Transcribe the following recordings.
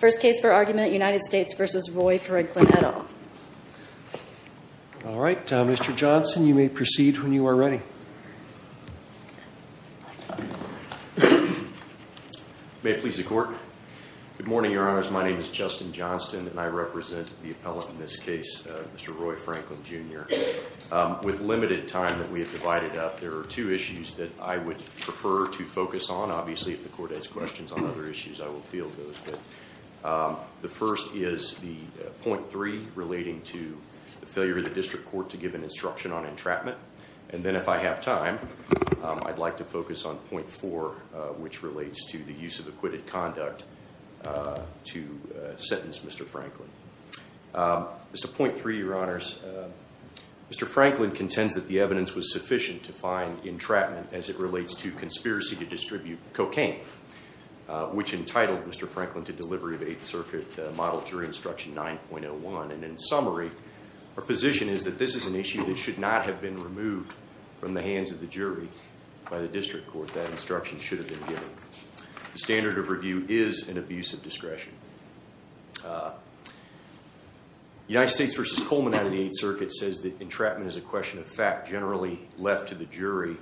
First case for argument, United States v. Roy Franklin, et al. All right, Mr. Johnson, you may proceed when you are ready. May it please the Court? Good morning, Your Honors. My name is Justin Johnson, and I represent the appellant in this case, Mr. Roy Franklin, Jr. With limited time that we have divided up, there are two issues that I would prefer to focus on. Obviously, if the Court has questions on other issues, I will field those. The first is the Point 3, relating to the failure of the District Court to give an instruction on entrapment. And then, if I have time, I'd like to focus on Point 4, which relates to the use of acquitted conduct to sentence Mr. Franklin. As to Point 3, Your Honors, Mr. Franklin contends that the evidence was sufficient to find entrapment as it relates to conspiracy to distribute cocaine, which entitled Mr. Franklin to delivery of Eighth Circuit Model Jury Instruction 9.01. And in summary, our position is that this is an issue that should not have been removed from the hands of the jury by the District Court. That instruction should have been given. The standard of review is an abuse of discretion. United States v. Coleman out of the Eighth Circuit says that entrapment is a question of fact generally left to the jury.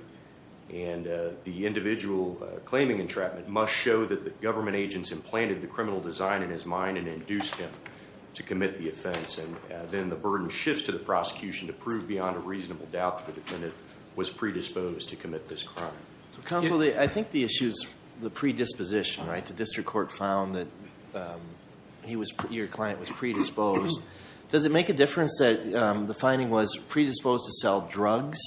And the individual claiming entrapment must show that the government agents implanted the criminal design in his mind and induced him to commit the offense. And then the burden shifts to the prosecution to prove beyond a reasonable doubt that the defendant was predisposed to commit this crime. Counsel, I think the issue is the predisposition, right? The District Court found that your client was predisposed. Does it make a difference that the finding was predisposed to sell drugs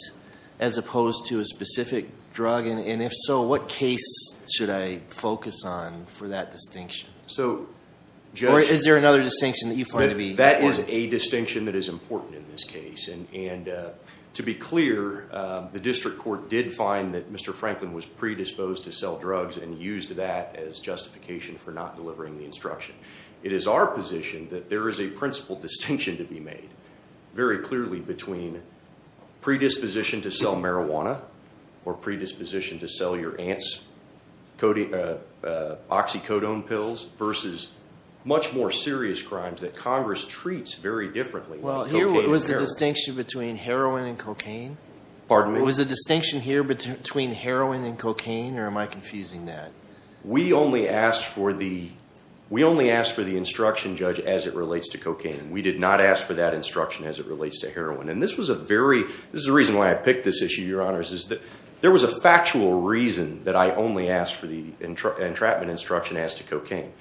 as opposed to a specific drug? And if so, what case should I focus on for that distinction? Or is there another distinction that you find to be important? That is a distinction that is important in this case. And to be clear, the District Court did find that Mr. Franklin was predisposed to sell drugs and used that as justification for not delivering the instruction. It is our position that there is a principal distinction to be made very clearly between predisposition to sell marijuana or predisposition to sell your aunt's oxycodone pills versus much more serious crimes that Congress treats very differently. Well, here was the distinction between heroin and cocaine? Pardon me? Was the distinction here between heroin and cocaine, or am I confusing that? We only asked for the instruction, Judge, as it relates to cocaine. We did not ask for that instruction as it relates to heroin. And this is the reason why I picked this issue, Your Honors, is that there was a factual reason that I only asked for the entrapment instruction as to cocaine.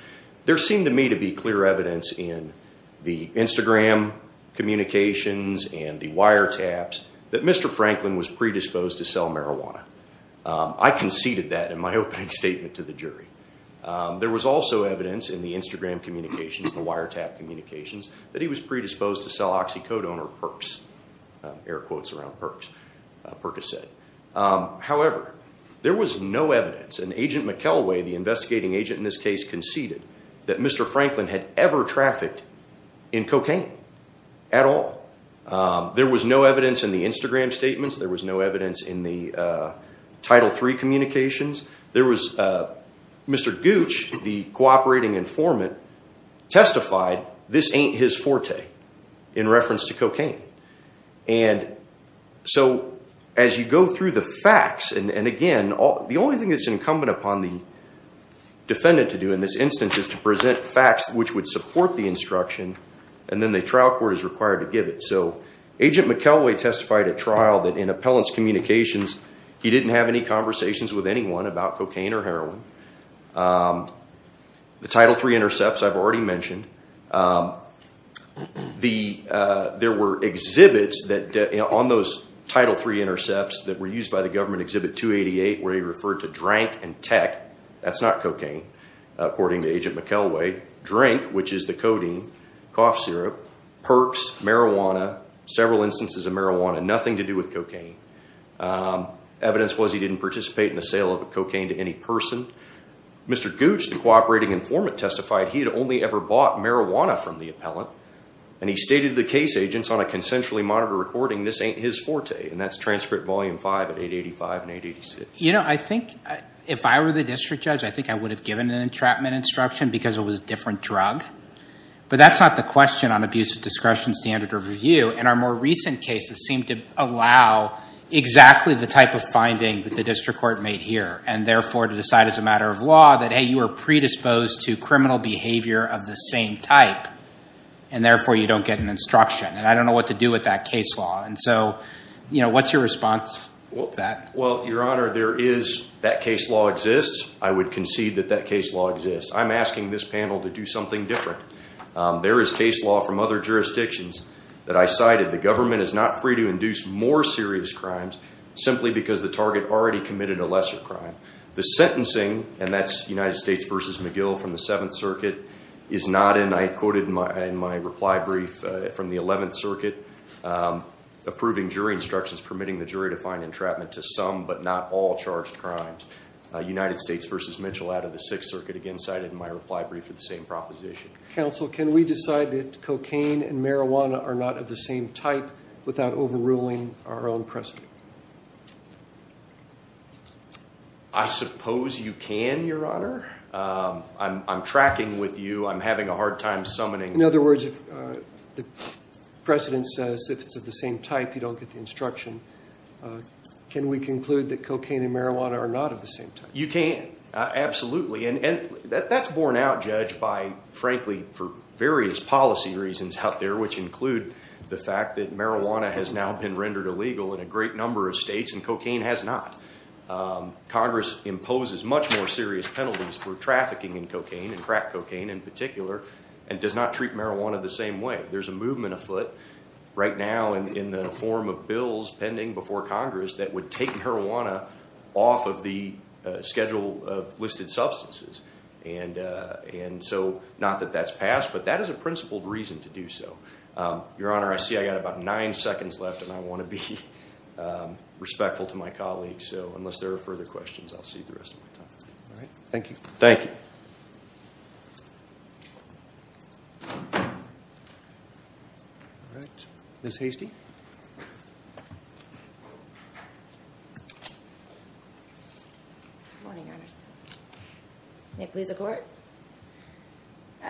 There seemed to me to be clear evidence in the Instagram communications and the wiretaps that Mr. Franklin was predisposed to sell marijuana. I conceded that in my opening statement to the jury. There was also evidence in the Instagram communications and the wiretap communications that he was predisposed to sell oxycodone or Percocet. Air quotes around Percocet. However, there was no evidence, and Agent McElway, the investigating agent in this case, conceded that Mr. Franklin had ever trafficked in cocaine at all. There was no evidence in the Instagram statements. There was no evidence in the Title III communications. Mr. Gooch, the cooperating informant, testified this ain't his forte in reference to cocaine. And so as you go through the facts, and again, the only thing that's incumbent upon the defendant to do in this instance is to present facts which would support the instruction, and then the trial court is required to give it. So Agent McElway testified at trial that in appellant's communications, he didn't have any conversations with anyone about cocaine or heroin. The Title III intercepts I've already mentioned. There were exhibits on those Title III intercepts that were used by the government, Exhibit 288, where he referred to drank and tech. That's not cocaine, according to Agent McElway. Drank, which is the codeine, cough syrup, perks, marijuana, several instances of marijuana, nothing to do with cocaine. Evidence was he didn't participate in the sale of cocaine to any person. Mr. Gooch, the cooperating informant, testified he had only ever bought marijuana from the appellant. And he stated to the case agents on a consensually monitored recording, this ain't his forte. And that's Transcript Volume 5 at 885 and 886. You know, I think if I were the district judge, I think I would have given an entrapment instruction because it was a different drug. But that's not the question on abuse of discretion, standard of review. And our more recent cases seem to allow exactly the type of finding that the district court made here. And therefore, to decide as a matter of law that, hey, you were predisposed to criminal behavior of the same type. And therefore, you don't get an instruction. And I don't know what to do with that case law. And so what's your response to that? Well, Your Honor, there is that case law exists. I would concede that that case law exists. I'm asking this panel to do something different. There is case law from other jurisdictions that I cited. The government is not free to induce more serious crimes simply because the target already committed a lesser crime. The sentencing, and that's United States v. McGill from the Seventh Circuit, is not, and I quoted in my reply brief from the Eleventh Circuit, approving jury instructions permitting the jury to find entrapment to some but not all charged crimes. United States v. Mitchell out of the Sixth Circuit, again cited in my reply brief for the same proposition. Counsel, can we decide that cocaine and marijuana are not of the same type without overruling our own precedent? I suppose you can, Your Honor. I'm tracking with you. I'm having a hard time summoning. In other words, the precedent says if it's of the same type, you don't get the instruction. Can we conclude that cocaine and marijuana are not of the same type? You can, absolutely. And that's borne out, Judge, by frankly for various policy reasons out there, which include the fact that marijuana has now been rendered illegal in a great number of states and cocaine has not. Congress imposes much more serious penalties for trafficking in cocaine and crack cocaine in particular and does not treat marijuana the same way. There's a movement afoot right now in the form of bills pending before Congress that would take marijuana off of the schedule of listed substances. And so not that that's passed, but that is a principled reason to do so. Your Honor, I see I've got about nine seconds left, and I want to be respectful to my colleagues. So unless there are further questions, I'll save the rest of my time. All right. Thank you. Thank you. Ms. Hastie? Good morning, Your Honor. May it please the Court?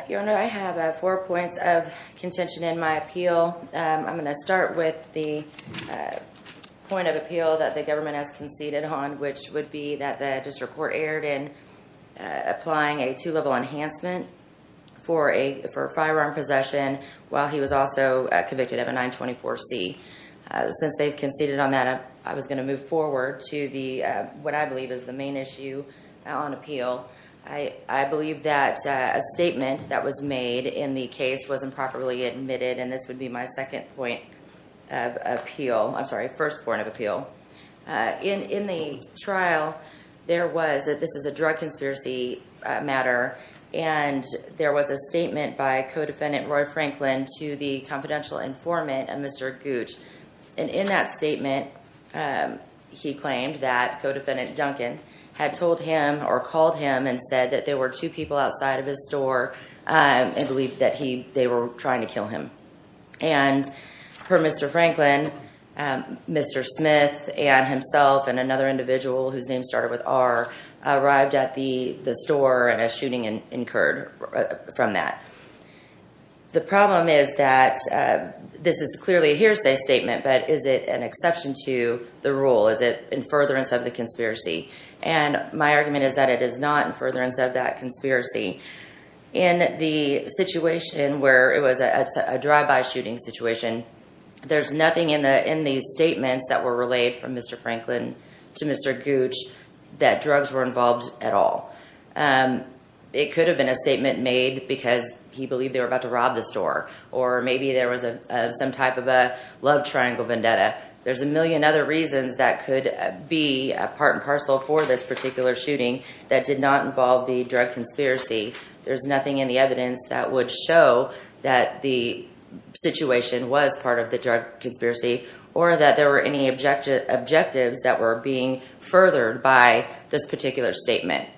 Your Honor, I have four points of contention in my appeal. I'm going to start with the point of appeal that the government has conceded on, which would be that the district court erred in applying a two-level enhancement for a firearm possession while he was also convicted of a 924C. Since they've conceded on that, I was going to move forward to what I believe is the main issue on appeal. I believe that a statement that was made in the case was improperly admitted, and this would be my second point of appeal. I'm sorry, first point of appeal. In the trial, there was that this is a drug conspiracy matter, and there was a statement by Codefendant Roy Franklin to the confidential informant of Mr. Gooch. And in that statement, he claimed that Codefendant Duncan had told him or called him and said that there were two people outside of his store and believed that they were trying to kill him. And per Mr. Franklin, Mr. Smith and himself and another individual whose name started with R arrived at the store and a shooting incurred from that. The problem is that this is clearly a hearsay statement, but is it an exception to the rule? Is it in furtherance of the conspiracy? And my argument is that it is not in furtherance of that conspiracy. In the situation where it was a drive-by shooting situation, there's nothing in the statements that were relayed from Mr. Franklin to Mr. Gooch that drugs were involved at all. It could have been a statement made because he believed they were about to rob the store, or maybe there was some type of a love triangle vendetta. There's a million other reasons that could be part and parcel for this particular shooting that did not involve the drug conspiracy. There's nothing in the evidence that would show that the situation was part of the drug conspiracy or that there were any objectives that were being furthered by this particular statement.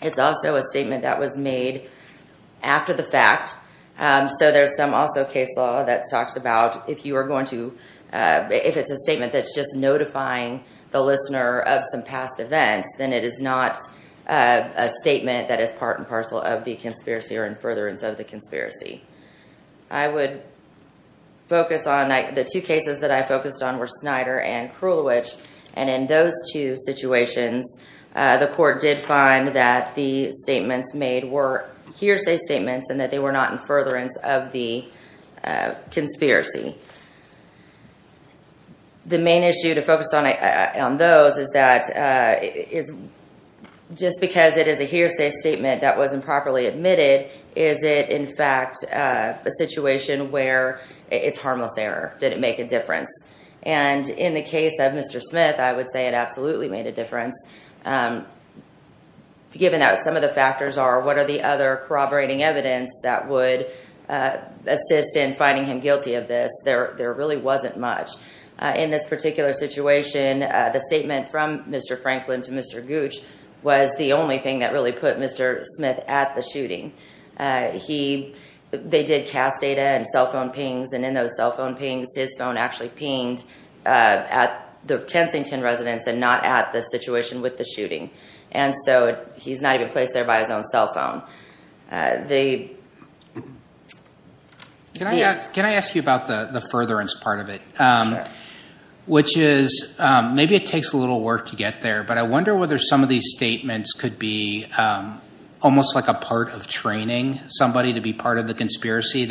It's also a statement that was made after the fact, so there's some also case law that talks about if it's a statement that's just notifying the listener of some past events, then it is not a statement that is part and parcel of the conspiracy or in furtherance of the conspiracy. I would focus on the two cases that I focused on were Snyder and Krulwich, and in those two situations the court did find that the statements made were hearsay statements and that they were not in furtherance of the conspiracy. The main issue to focus on those is that just because it is a hearsay statement that wasn't properly admitted, is it in fact a situation where it's harmless error? Did it make a difference? And in the case of Mr. Smith, I would say it absolutely made a difference, given that some of the factors are what are the other corroborating evidence that would assist in finding him guilty of this. There really wasn't much. In this particular situation, the statement from Mr. Franklin to Mr. Gooch was the only thing that really put Mr. Smith at the shooting. They did cast data and cell phone pings, and in those cell phone pings, his phone actually pinged at the Kensington residence and not at the situation with the shooting, and so he's not even placed there by his own cell phone. They... Can I ask you about the furtherance part of it? Which is maybe it takes a little work to get there, but I wonder whether some of these statements could be almost like a part of training somebody to be part of the conspiracy.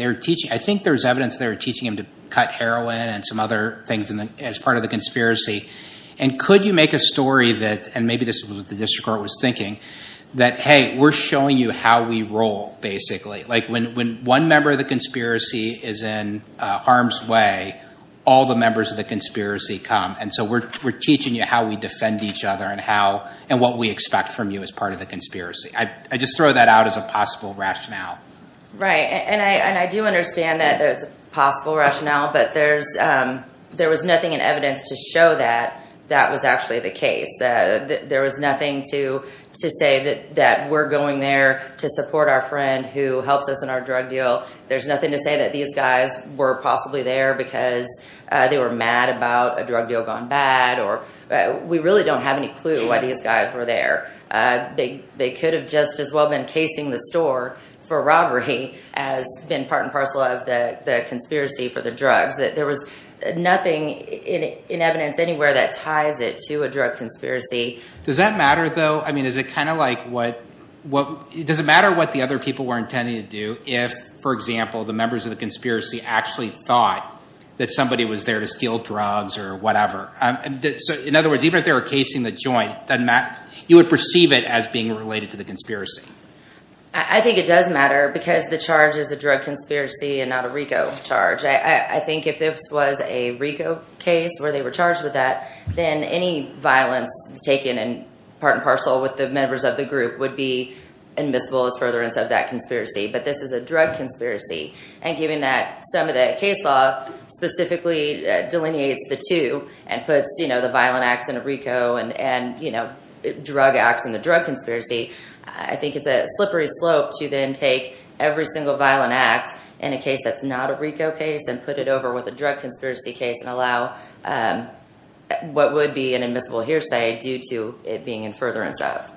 I think there's evidence they were teaching him to cut heroin and some other things as part of the conspiracy, and could you make a story that, and maybe this is what the district court was thinking, that, hey, we're showing you how we roll, basically. Like, when one member of the conspiracy is in harm's way, all the members of the conspiracy come, and so we're teaching you how we defend each other and what we expect from you as part of the conspiracy. I just throw that out as a possible rationale. Right, and I do understand that it's a possible rationale, but there was nothing in evidence to show that that was actually the case. There was nothing to say that we're going there to support our friend who helps us in our drug deal. There's nothing to say that these guys were possibly there because they were mad about a drug deal gone bad, or we really don't have any clue why these guys were there. They could have just as well been casing the store for robbery as been part and parcel of the conspiracy for the drugs. There was nothing in evidence anywhere that ties it to a drug conspiracy. Does that matter, though? I mean, does it matter what the other people were intending to do if, for example, the members of the conspiracy actually thought that somebody was there to steal drugs or whatever? In other words, even if they were casing the joint, you would perceive it as being related to the conspiracy. I think it does matter because the charge is a drug conspiracy and not a RICO charge. I think if this was a RICO case where they were charged with that, then any violence taken part and parcel with the members of the group would be admissible as furtherance of that conspiracy. But this is a drug conspiracy, and given that some of the case law specifically delineates the two and puts the violent acts in a RICO and drug acts in the drug conspiracy, I think it's a slippery slope to then take every single violent act in a case that's not a RICO case and put it over with a drug conspiracy case and allow what would be an admissible hearsay due to it being in furtherance of.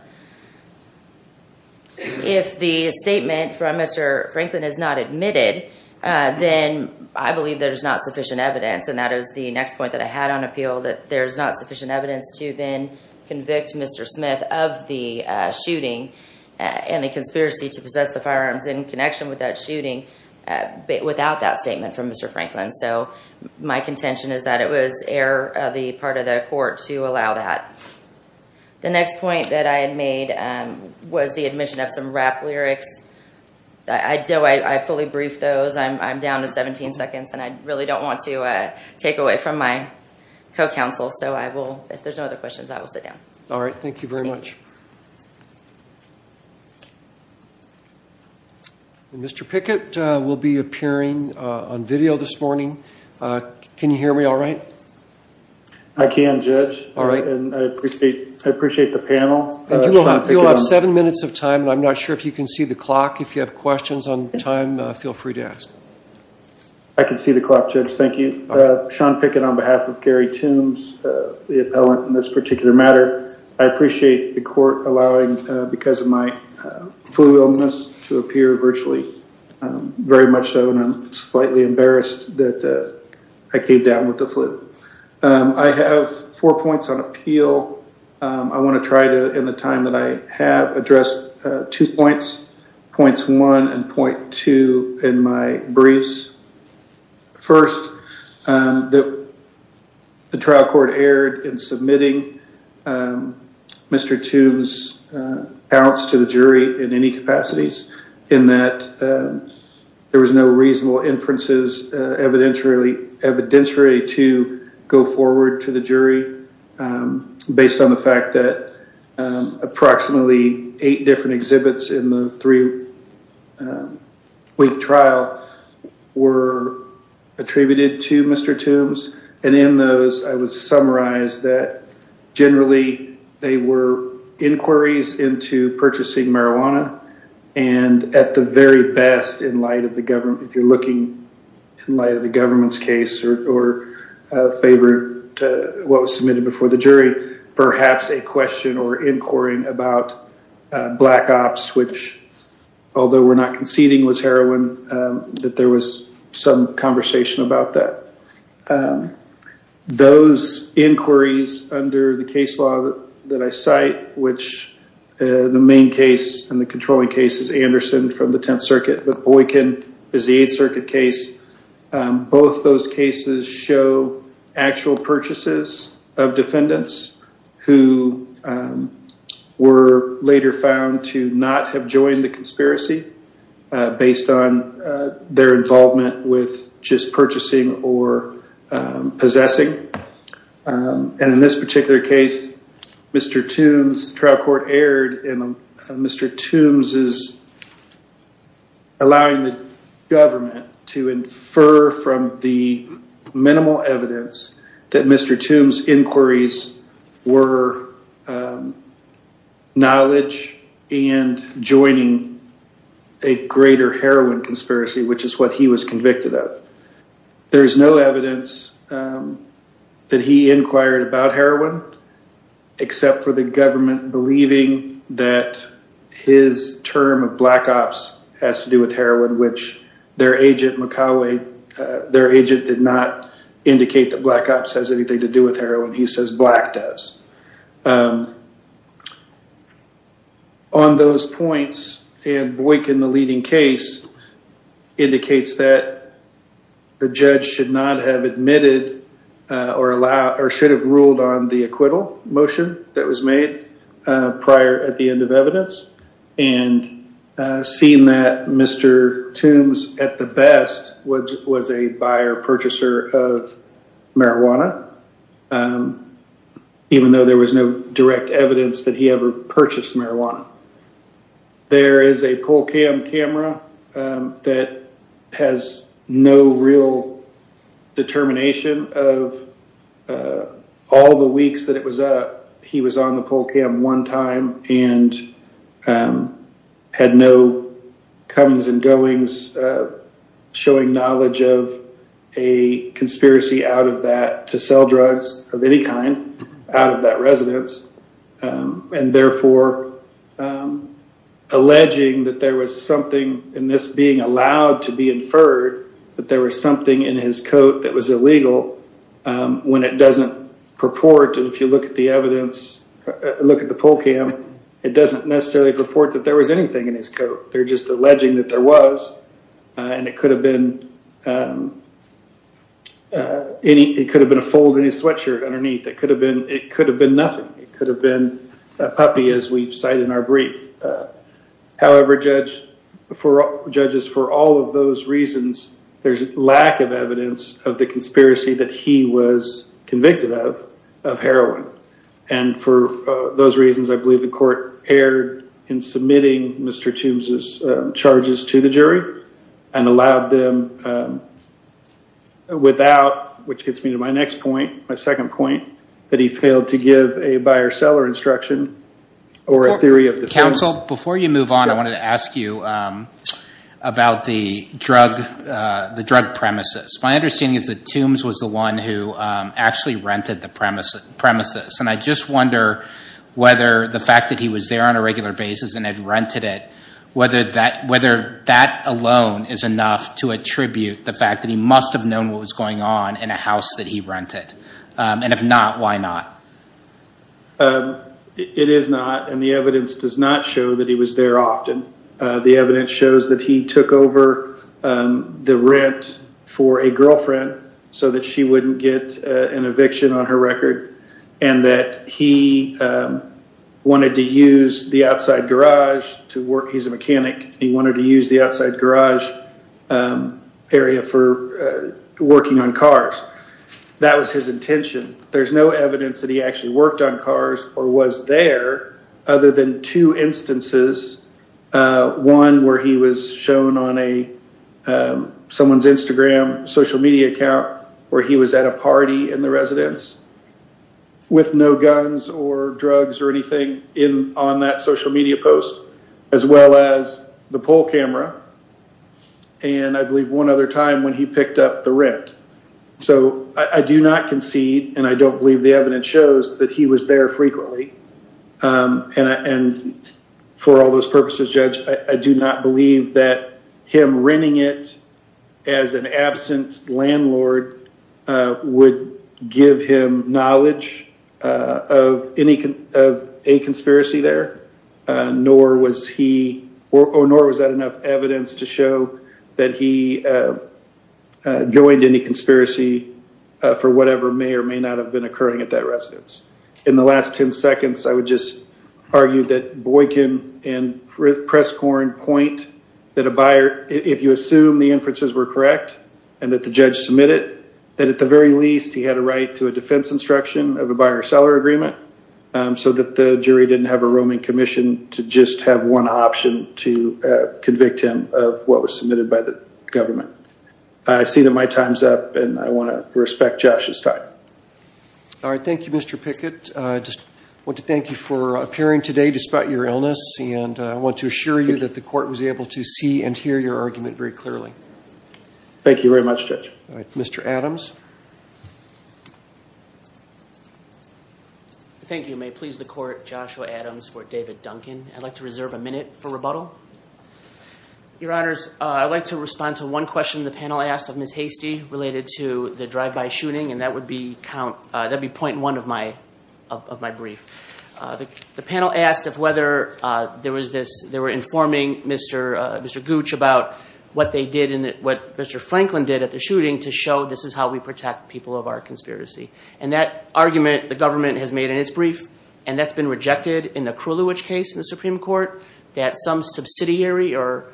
If the statement from Mr. Franklin is not admitted, then I believe there's not sufficient evidence, and that is the next point that I had on appeal, that there's not sufficient evidence to then convict Mr. Smith of the shooting and the conspiracy to possess the firearms in connection with that shooting without that statement from Mr. Franklin. So my contention is that it was error of the part of the court to allow that. The next point that I had made was the admission of some rap lyrics. I fully briefed those. I'm down to 17 seconds, and I really don't want to take away from my co-counsel, so if there's no other questions, I will sit down. All right. Thank you very much. Mr. Pickett will be appearing on video this morning. Can you hear me all right? I can, Judge. All right. I appreciate the panel. You'll have seven minutes of time, and I'm not sure if you can see the clock. If you have questions on time, feel free to ask. I can see the clock, Judge. Thank you. Sean Pickett on behalf of Gary Toombs, the appellant in this particular matter. I appreciate the court allowing, because of my flu illness, to appear virtually very much so, and I'm slightly embarrassed that I came down with the flu. I have four points on appeal. I want to try to, in the time that I have, address two points, points one and point two in my briefs. First, the trial court erred in submitting Mr. Toombs' appearance to the jury in any capacities, in that there was no reasonable inferences evidentiary to go forward to the jury, based on the fact that approximately eight different exhibits in the three-week trial were attributed to Mr. Toombs, and in those, I would summarize that, generally, they were inquiries into purchasing marijuana, and at the very best, in light of the government, if you're looking in light of the government's case, or in favor of what was submitted before the jury, perhaps a question or inquiry about black ops, which, although we're not conceding was heroin, that there was some conversation about that. Those inquiries under the case law that I cite, which the main case and the controlling case is Anderson from the Tenth Circuit, but Boykin is the Eighth Circuit case, both those cases show actual purchases of defendants who were later found to not have joined the conspiracy, based on their involvement with just purchasing or possessing, and in this particular case, Mr. Toombs, the trial court erred in Mr. Toombs' allowing the government to infer from the minimal evidence that Mr. Toombs' inquiries were knowledge and joining a greater heroin conspiracy, which is what he was convicted of. There's no evidence that he inquired about heroin, except for the government believing that his term of black ops has to do with heroin, which their agent, Makawe, their agent did not indicate that black ops has anything to do with heroin. He says black does. On those points, and Boykin, the leading case, indicates that the judge should not have admitted or should have ruled on the acquittal motion that was made prior at the end of evidence, and seeing that Mr. Toombs, at the best, was a buyer purchaser of marijuana, even though there was no direct evidence that he ever purchased marijuana. There is a PolCam camera that has no real determination of all the weeks that he was on the PolCam one time and had no comings and goings, showing knowledge of a conspiracy out of that to sell drugs of any kind out of that residence, and therefore alleging that there was something in this being allowed to be inferred that there was something in his coat that was illegal when it doesn't purport, and if you look at the evidence, look at the PolCam, it doesn't necessarily purport that there was anything in his coat. They're just alleging that there was, and it could have been a fold in his sweatshirt underneath. It could have been nothing. It could have been a puppy, as we cite in our brief. However, judges, for all of those reasons, there's lack of evidence of the conspiracy that he was convicted of, of heroin, and for those reasons, I believe the court erred in submitting Mr. Toombs' charges to the jury and allowed them without, which gets me to my next point, my second point, that he failed to give a buyer-seller instruction or a theory of defense. Counsel, before you move on, I wanted to ask you about the drug premises. My understanding is that Toombs was the one who actually rented the premises, and I just wonder whether the fact that he was there on a regular basis and had rented it, whether that alone is enough to attribute the fact that he must have known what was going on in a house that he rented, and if not, why not? It is not, and the evidence does not show that he was there often. The evidence shows that he took over the rent for a girlfriend so that she wouldn't get an eviction on her record, and that he wanted to use the outside garage to work. He's a mechanic. He wanted to use the outside garage area for working on cars. That was his intention. There's no evidence that he actually worked on cars or was there other than two instances, one where he was shown on someone's Instagram social media account where he was at a party in the residence with no guns or drugs or anything on that social media post, as well as the poll camera, and I believe one other time when he picked up the rent. So I do not concede, and I don't believe the evidence shows that he was there frequently, and for all those purposes, Judge, I do not believe that him renting it as an absent landlord would give him knowledge of a conspiracy there, nor was he, or nor was that enough evidence to show that he joined any conspiracy for whatever may or may not have been occurring at that residence. In the last 10 seconds, I would just argue that Boykin and Presscorn point that a buyer, if you assume the inferences were correct and that the judge submitted it, that at the very least he had a right to a defense instruction of a buyer-seller agreement so that the jury didn't have a roaming commission to just have one option to convict him of what was submitted by the government. I see that my time's up, and I want to respect Josh's time. All right, thank you, Mr. Pickett. I just want to thank you for appearing today despite your illness, and I want to assure you that the court was able to see and hear your argument very clearly. Thank you very much, Judge. All right, Mr. Adams. Thank you. May it please the court, Joshua Adams for David Duncan. I'd like to reserve a minute for rebuttal. Your Honors, I'd like to respond to one question the panel asked of Ms. Hastie related to the drive-by shooting, and that would be point one of my brief. The panel asked if whether there was this, they were informing Mr. Gooch about what they did and what Mr. Franklin did at the shooting to show this is how we protect people of our conspiracy. And that argument the government has made in its brief, and that's been rejected in the Krulwich case in the Supreme Court, that some subsidiary or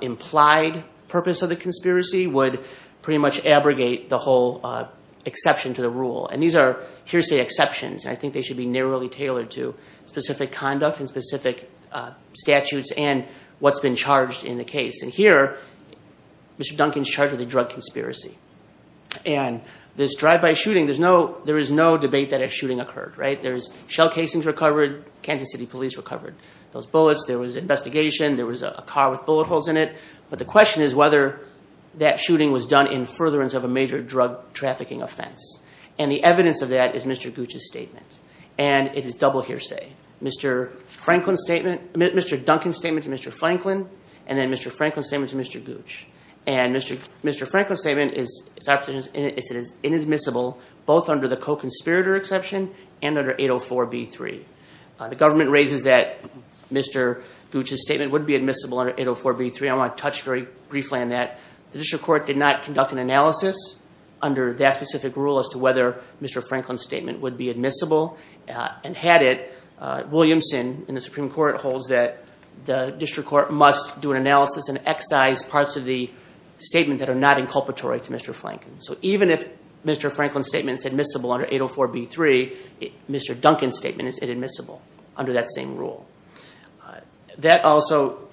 implied purpose of the conspiracy would pretty much abrogate the whole exception to the rule. And these are hearsay exceptions, and I think they should be narrowly tailored to specific conduct and specific statutes and what's been charged in the case. And here, Mr. Duncan's charged with a drug conspiracy. And this drive-by shooting, there is no debate that a shooting occurred, right? There's shell casings recovered, Kansas City Police recovered those bullets, there was investigation, there was a car with bullet holes in it, but the question is whether that shooting was done in furtherance of a major drug trafficking offense. And the evidence of that is Mr. Gooch's statement, and it is double hearsay. Mr. Duncan's statement to Mr. Franklin and then Mr. Franklin's statement to Mr. Gooch. And Mr. Franklin's statement is inadmissible both under the co-conspirator exception and under 804b3. The government raises that Mr. Gooch's statement would be admissible under 804b3. I want to touch very briefly on that. The district court did not conduct an analysis under that specific rule as to whether Mr. Franklin's statement would be admissible. And had it, Williamson in the Supreme Court holds that the district court must do an analysis and excise parts of the statement that are not inculpatory to Mr. Franklin. So even if Mr. Franklin's statement is admissible under 804b3, Mr. Duncan's statement is inadmissible under that same rule. That also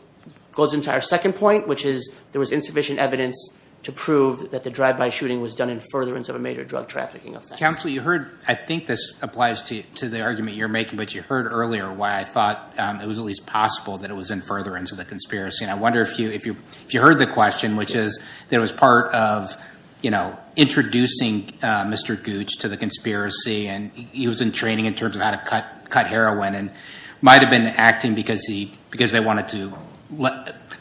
goes into our second point, which is there was insufficient evidence to prove that the drive-by shooting was done in furtherance of a major drug trafficking offense. Counsel, you heard, I think this applies to the argument you're making, but you heard earlier why I thought it was at least possible that it was in furtherance of the conspiracy. And I wonder if you heard the question, which is that it was part of, you know, introducing Mr. Gooch to the conspiracy and he was in training in terms of how to cut heroin and might have been acting because they wanted to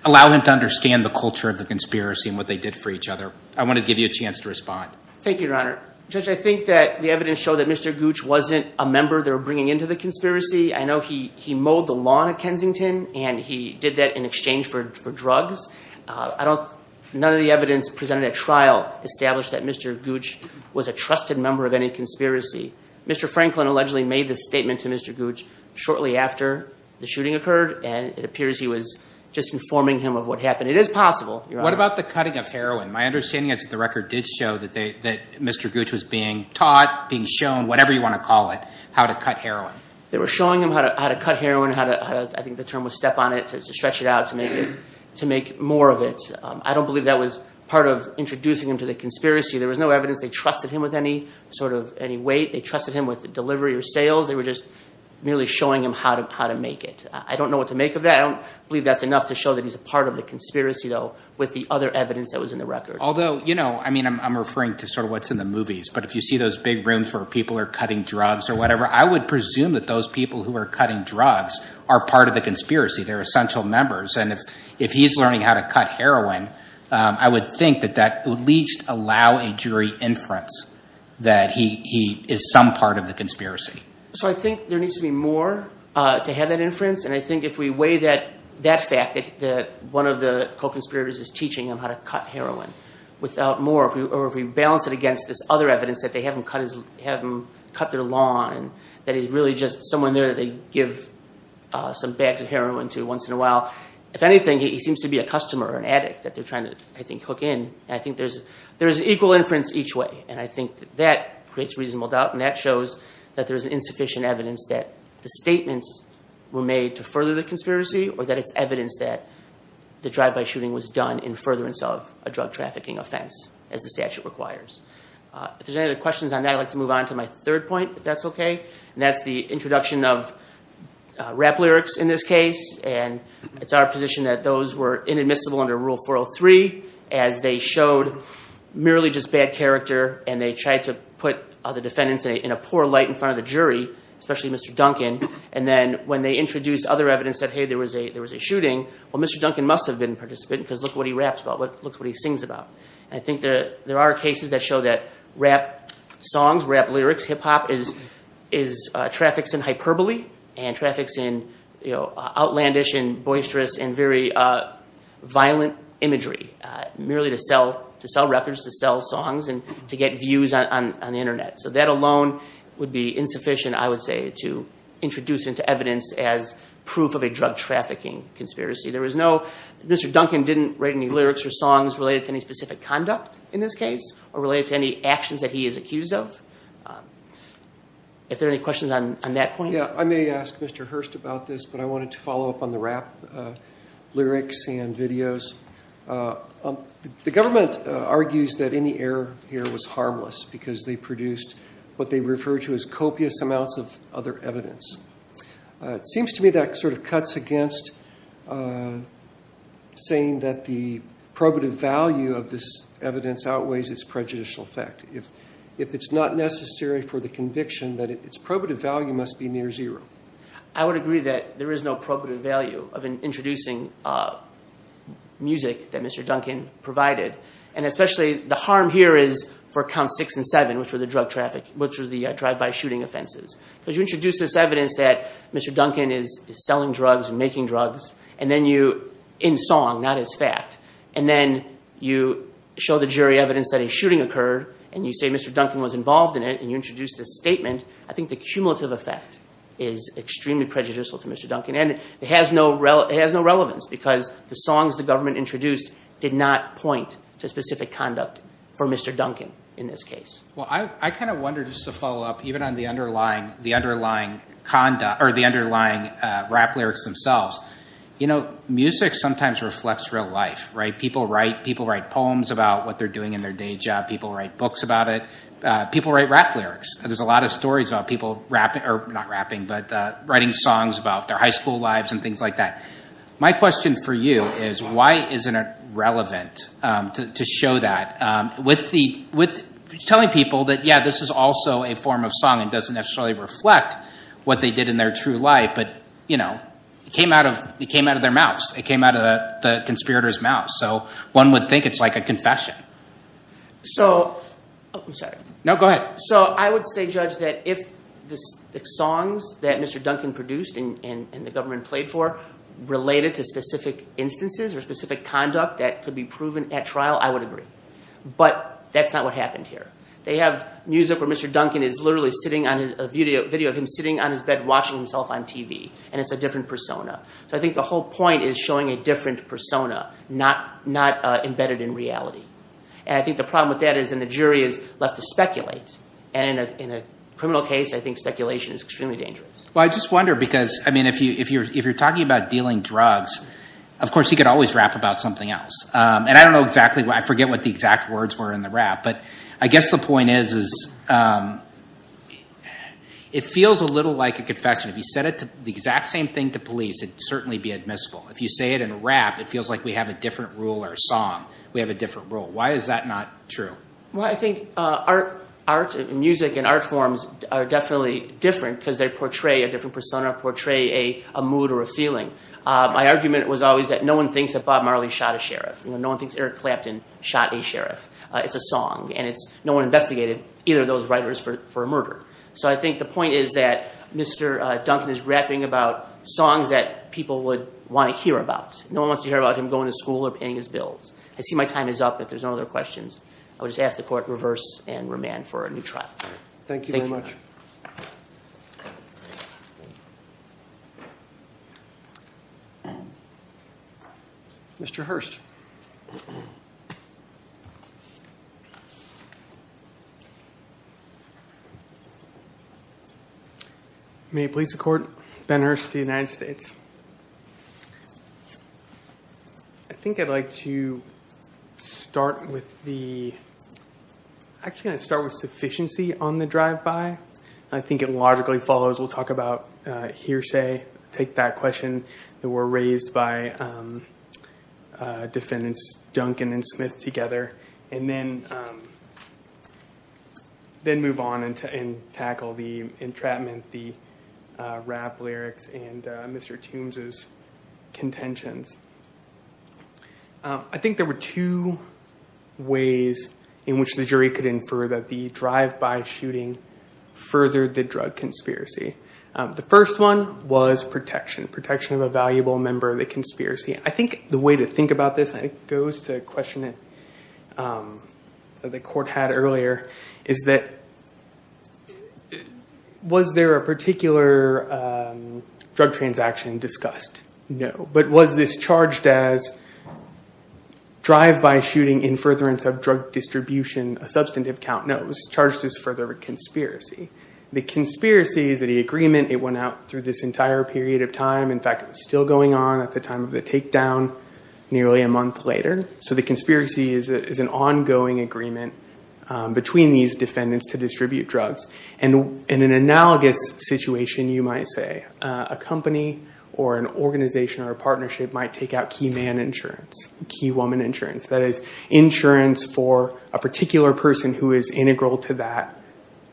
allow him to understand the culture of the conspiracy and what they did for each other. I want to give you a chance to respond. Thank you, Your Honor. Judge, I think that the evidence showed that Mr. Gooch wasn't a member they were bringing into the conspiracy. I know he mowed the lawn at Kensington and he did that in exchange for drugs. None of the evidence presented at trial established that Mr. Gooch was a trusted member of any conspiracy. Mr. Franklin allegedly made this statement to Mr. Gooch shortly after the shooting occurred and it appears he was just informing him of what happened. It is possible, Your Honor. What about the cutting of heroin? My understanding is that the record did show that Mr. Gooch was being taught, being shown, whatever you want to call it, how to cut heroin. They were showing him how to cut heroin, how to, I think the term was step on it, to stretch it out, to make more of it. I don't believe that was part of introducing him to the conspiracy. There was no evidence they trusted him with any weight. They trusted him with delivery or sales. They were just merely showing him how to make it. I don't know what to make of that. I don't believe that's enough to show that he's a part of the conspiracy, though, with the other evidence that was in the record. Although, you know, I mean, I'm referring to sort of what's in the movies, but if you see those big rooms where people are cutting drugs or whatever, I would presume that those people who are cutting drugs are part of the conspiracy. They're essential members. And if he's learning how to cut heroin, I would think that that would at least allow a jury inference that he is some part of the conspiracy. So I think there needs to be more to have that inference and I think if we weigh that fact that one of the co-conspirators is teaching him how to cut heroin without more, or if we balance it against this other evidence that they have him cut their lawn and that he's really just someone there that they give some bags of heroin to once in a while, if anything, he seems to be a customer or an addict that they're trying to, I think, hook in. And I think there's an equal inference each way and I think that that creates reasonable doubt and that shows that there's insufficient evidence that the statements were made to further the conspiracy or that it's evidence that the drive-by shooting was done in furtherance of a drug trafficking offense, as the statute requires. If there's any other questions on that, I'd like to move on to my third point, if that's okay. And that's the introduction of rap lyrics in this case and it's our position that those were inadmissible under Rule 403 as they showed merely just bad character and they tried to put the defendants in a poor light in front of the jury, especially Mr. Duncan, and then when they introduced other evidence that, hey, there was a shooting, well, Mr. Duncan must have been a participant because look what he raps about, look what he sings about. And I think there are cases that show that rap songs, rap lyrics, hip-hop is traffics in hyperbole and traffics in outlandish and boisterous and very violent imagery, merely to sell records, to sell songs and to get views on the internet. So that alone would be insufficient, I would say, to introduce into evidence as proof of a drug trafficking conspiracy. Mr. Duncan didn't write any lyrics or songs related to any specific conduct in this case or related to any actions that he is accused of. If there are any questions on that point. Yeah, I may ask Mr. Hurst about this, but I wanted to follow up on the rap lyrics and videos. The government argues that any error here was harmless because they produced what they refer to as copious amounts of other evidence. It seems to me that sort of cuts against saying that the probative value of this evidence outweighs its prejudicial effect. If it's not necessary for the conviction that its probative value must be near zero. I would agree that there is no probative value of introducing music that Mr. Duncan provided. And especially the harm here is for counts six and seven, which was the drive-by shooting offenses. Because you introduce this evidence that Mr. Duncan is selling drugs and making drugs, in song, not as fact. And then you show the jury evidence that a shooting occurred and you say Mr. Duncan was involved in it and you introduce this statement. I think the cumulative effect is extremely prejudicial to Mr. Duncan. And it has no relevance because the songs the government introduced did not point to specific conduct for Mr. Duncan in this case. Well, I kind of wonder, just to follow up, even on the underlying rap lyrics themselves. You know, music sometimes reflects real life, right? People write poems about what they're doing in their day job. People write books about it. People write rap lyrics. There's a lot of stories about people writing songs about their high school lives and things like that. My question for you is why isn't it relevant to show that? With telling people that, yeah, this is also a form of song and doesn't necessarily reflect what they did in their true life. But, you know, it came out of their mouths. It came out of the conspirators' mouths. So one would think it's like a confession. So... Oh, I'm sorry. No, go ahead. So I would say, Judge, that if the songs that Mr. Duncan produced and the government played for related to specific instances or specific conduct that could be proven at trial, I would agree. But that's not what happened here. They have music where Mr. Duncan is literally sitting on a video of him sitting on his bed watching himself on TV, and it's a different persona. So I think the whole point is showing a different persona, not embedded in reality. And I think the problem with that is then the jury is left to speculate. And in a criminal case, I think speculation is extremely dangerous. Well, I just wonder because, I mean, if you're talking about dealing drugs, of course you could always rap about something else. And I don't know exactly why. I forget what the exact words were in the rap. But I guess the point is it feels a little like a confession. If you said the exact same thing to police, it would certainly be admissible. If you say it in a rap, it feels like we have a different rule or a song. We have a different rule. Why is that not true? Well, I think art and music and art forms are definitely different because they portray a different persona, portray a mood or a feeling. My argument was always that no one thinks that Bob Marley shot a sheriff. No one thinks Eric Clapton shot a sheriff. It's a song, and no one investigated either of those writers for a murder. So I think the point is that Mr. Duncan is rapping about songs that people would want to hear about. No one wants to hear about him going to school or paying his bills. I see my time is up if there's no other questions. I would just ask the Court to reverse and remand for a new trial. Thank you very much. Mr. Hurst. May it please the Court, Ben Hurst of the United States. I think I'd like to start with the I'm actually going to start with sufficiency on the drive-by. I think it logically follows. We'll talk about hearsay, take that question that were raised by defendants Duncan and Smith together, and then move on and tackle the entrapment, the rap lyrics, and Mr. Toombs' contentions. I think there were two ways in which the jury could infer that the drive-by shooting furthered the drug conspiracy. The first one was protection, protection of a valuable member of the conspiracy. I think the way to think about this, and it goes to a question that the Court had earlier, is that was there a particular drug transaction discussed? No. But was this charged as drive-by shooting in furtherance of drug distribution, a substantive count? No, it was charged as further conspiracy. The conspiracy is that the agreement, it went out through this entire period of time. In fact, it was still going on at the time of the takedown, nearly a month later. So the conspiracy is an ongoing agreement between these defendants to distribute drugs. In an analogous situation, you might say, a company or an organization or a partnership might take out key man insurance, key woman insurance. That is, insurance for a particular person who is integral to that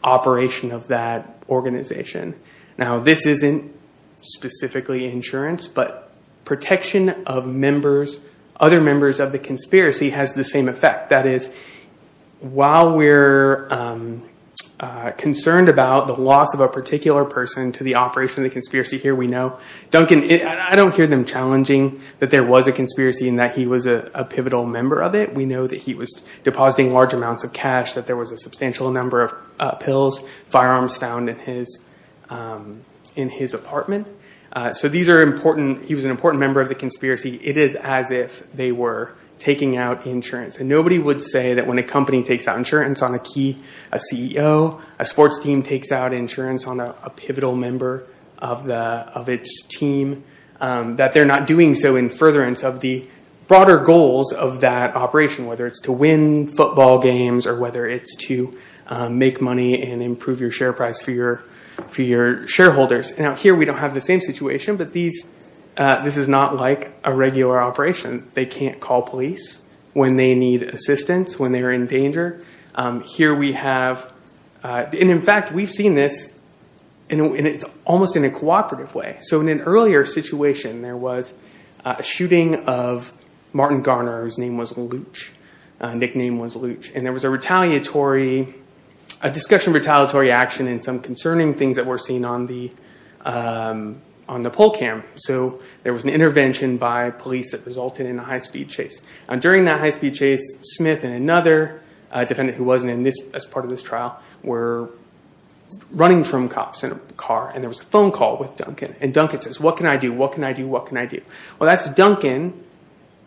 operation of that organization. Now, this isn't specifically insurance, but protection of members, other members of the conspiracy has the same effect. That is, while we're concerned about the loss of a particular person to the operation of the conspiracy here, we know. Duncan, I don't hear them challenging that there was a conspiracy and that he was a pivotal member of it. We know that he was depositing large amounts of cash, that there was a substantial number of pills, firearms found in his apartment. So these are important. He was an important member of the conspiracy. It is as if they were taking out insurance. Nobody would say that when a company takes out insurance on a key CEO, a sports team takes out insurance on a pivotal member of its team, that they're not doing so in furtherance of the broader goals of that operation, whether it's to win football games or whether it's to make money and improve your share price for your shareholders. Now, here we don't have the same situation, but this is not like a regular operation. They can't call police when they need assistance, when they're in danger. Here we have – and, in fact, we've seen this, and it's almost in a cooperative way. So in an earlier situation, there was a shooting of Martin Garner, whose name was Looch, nickname was Looch. And there was a retaliatory – a discussion of retaliatory action and some concerning things that were seen on the poll cam. So there was an intervention by police that resulted in a high-speed chase. During that high-speed chase, Smith and another defendant who wasn't in this – as part of this trial were running from cops in a car, and there was a phone call with Duncan, and Duncan says, what can I do, what can I do, what can I do? Well, that's Duncan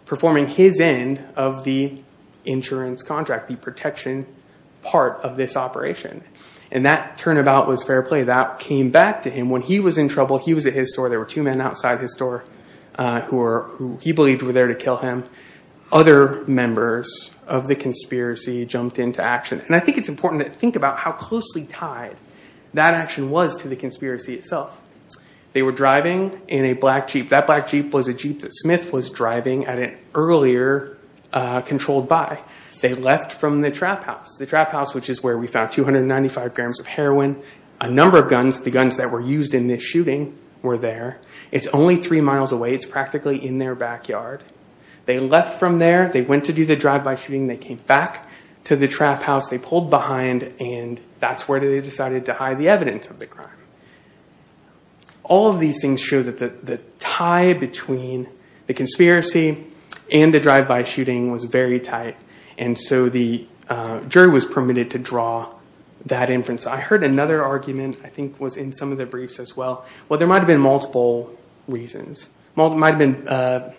performing his end of the insurance contract, the protection part of this operation. And that turnabout was fair play. That came back to him. When he was in trouble, he was at his store. There were two men outside his store who he believed were there to kill him. Other members of the conspiracy jumped into action. And I think it's important to think about how closely tied that action was to the conspiracy itself. They were driving in a black Jeep. That black Jeep was a Jeep that Smith was driving at an earlier controlled buy. They left from the trap house. The trap house, which is where we found 295 grams of heroin. A number of guns, the guns that were used in this shooting, were there. It's only three miles away. It's practically in their backyard. They left from there. They went to do the drive-by shooting. They came back to the trap house. They pulled behind, and that's where they decided to hide the evidence of the crime. All of these things show that the tie between the conspiracy and the drive-by shooting was very tight, and so the jury was permitted to draw that inference. I heard another argument, I think it was in some of the briefs as well. Well, there might have been multiple reasons. It might have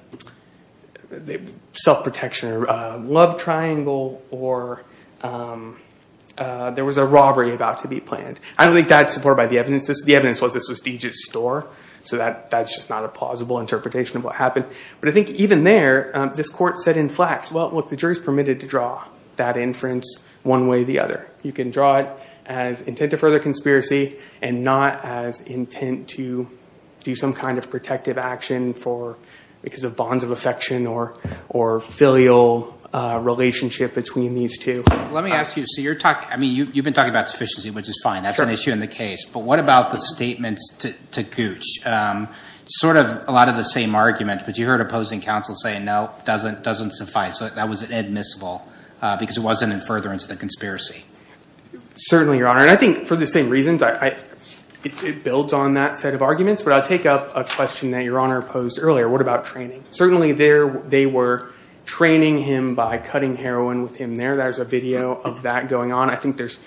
been self-protection, a love triangle, or there was a robbery about to be planned. I don't think that's supported by the evidence. The evidence was this was Deej's store, so that's just not a plausible interpretation of what happened. But I think even there, this court said in flax, well, look, the jury's permitted to draw that inference one way or the other. You can draw it as intent to further conspiracy and not as intent to do some kind of protective action because of bonds of affection or filial relationship between these two. Let me ask you, so you've been talking about sufficiency, which is fine. That's an issue in the case, but what about the statements to Gooch? Sort of a lot of the same argument, but you heard opposing counsel say, no, it doesn't suffice, that was admissible because it wasn't in furtherance of the conspiracy. Certainly, Your Honor, and I think for the same reasons. It builds on that set of arguments, but I'll take up a question that Your Honor posed earlier. What about training? Certainly, they were training him by cutting heroin with him there. There's a video of that going on. I think there's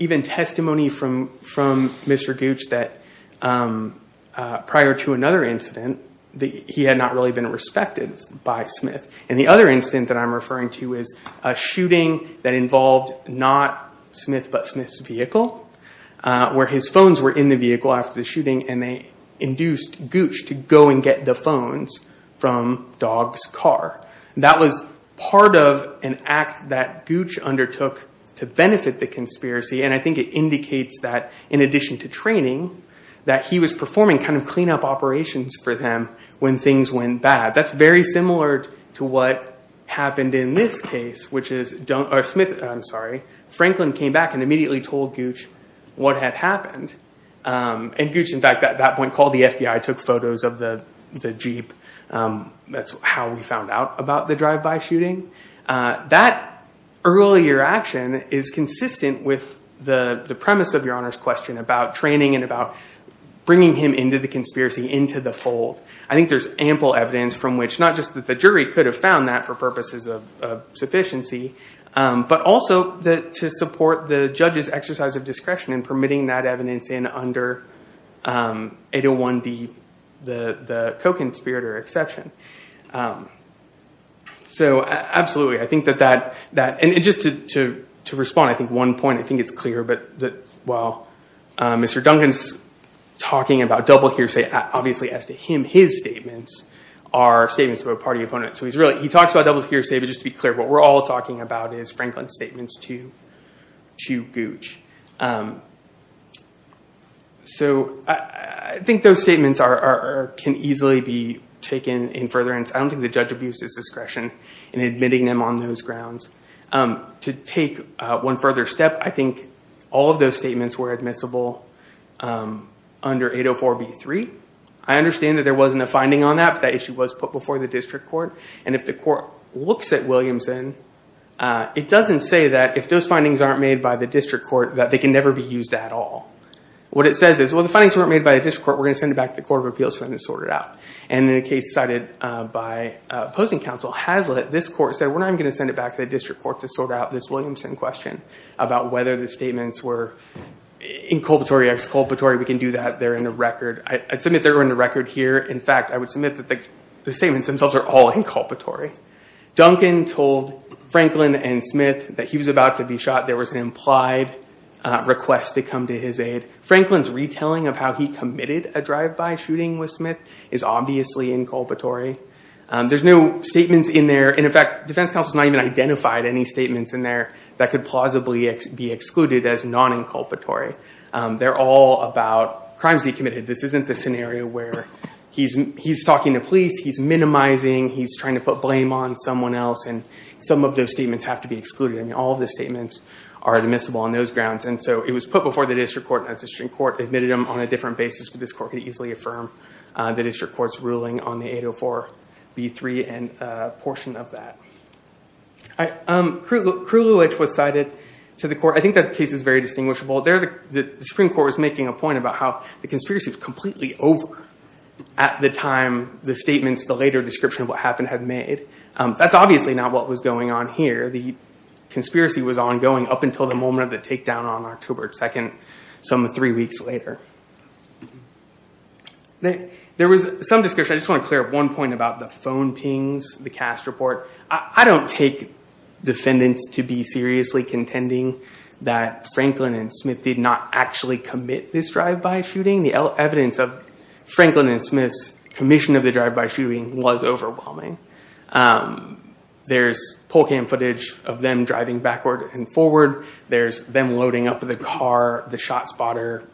even testimony from Mr. Gooch that prior to another incident, he had not really been respected by Smith. The other incident that I'm referring to is a shooting that involved not Smith but Smith's vehicle where his phones were in the vehicle after the shooting and they induced Gooch to go and get the phones from Dog's car. That was part of an act that Gooch undertook to benefit the conspiracy and I think it indicates that in addition to training, that he was performing kind of clean-up operations for them when things went bad. That's very similar to what happened in this case, which is Franklin came back and immediately told Gooch what had happened. And Gooch, in fact, at that point called the FBI, took photos of the Jeep. That's how we found out about the drive-by shooting. That earlier action is consistent with the premise of Your Honor's question about training and about bringing him into the conspiracy, into the fold. I think there's ample evidence from which, not just that the jury could have found that for purposes of sufficiency, but also to support the judge's exercise of discretion and permitting that evidence in under 801-D, the co-conspirator exception. So absolutely, I think that that, and just to respond to one point, I think it's clear that while Mr. Duncan's talking about double hearsay, obviously as to him, his statements are statements of a party opponent. So he talks about double hearsay, but just to be clear, what we're all talking about is Franklin's statements to Gooch. So I think those statements can easily be taken in furtherance. I don't think the judge abused his discretion in admitting them on those grounds. To take one further step, I think all of those statements were admissible under 804-B3. I understand that there wasn't a finding on that, but that issue was put before the district court. And if the court looks at Williamson, it doesn't say that if those findings aren't made by the district court, that they can never be used at all. What it says is, well, the findings weren't made by the district court, we're going to send it back to the Court of Appeals for them to sort it out. And in a case cited by opposing counsel, Hazlitt, this court said we're not even going to send it back to the district court to sort out this Williamson question about whether the statements were inculpatory, exculpatory, we can do that, they're in the record. I'd submit they're in the record here. In fact, I would submit that the statements themselves are all inculpatory. Duncan told Franklin and Smith that he was about to be shot. There was an implied request to come to his aid. Franklin's retelling of how he committed a drive-by shooting with Smith is obviously inculpatory. There's no statements in there, and in fact, defense counsel has not even identified any statements in there that could plausibly be excluded as non-inculpatory. They're all about crimes he committed. This isn't the scenario where he's talking to police, he's minimizing, he's trying to put blame on someone else, and some of those statements have to be excluded. I mean, all of the statements are admissible on those grounds. And so it was put before the district court, and the district court admitted them on a different basis, but this court could easily affirm the district court's ruling on the 804b3 and a portion of that. Kraluj was cited to the court. I think that case is very distinguishable. The Supreme Court was making a point about how the conspiracy was completely over at the time the statements, the later description of what happened, had made. That's obviously not what was going on here. The conspiracy was ongoing up until the moment of the takedown on October 2nd, some three weeks later. There was some discussion, I just want to clear up one point, about the phone pings, the cast report. I don't take defendants to be seriously contending that Franklin and Smith did not actually commit this drive-by shooting. The evidence of Franklin and Smith's commission of the drive-by shooting was overwhelming. There's poll cam footage of them driving backward and forward. There's them loading up the car, the shot spotter,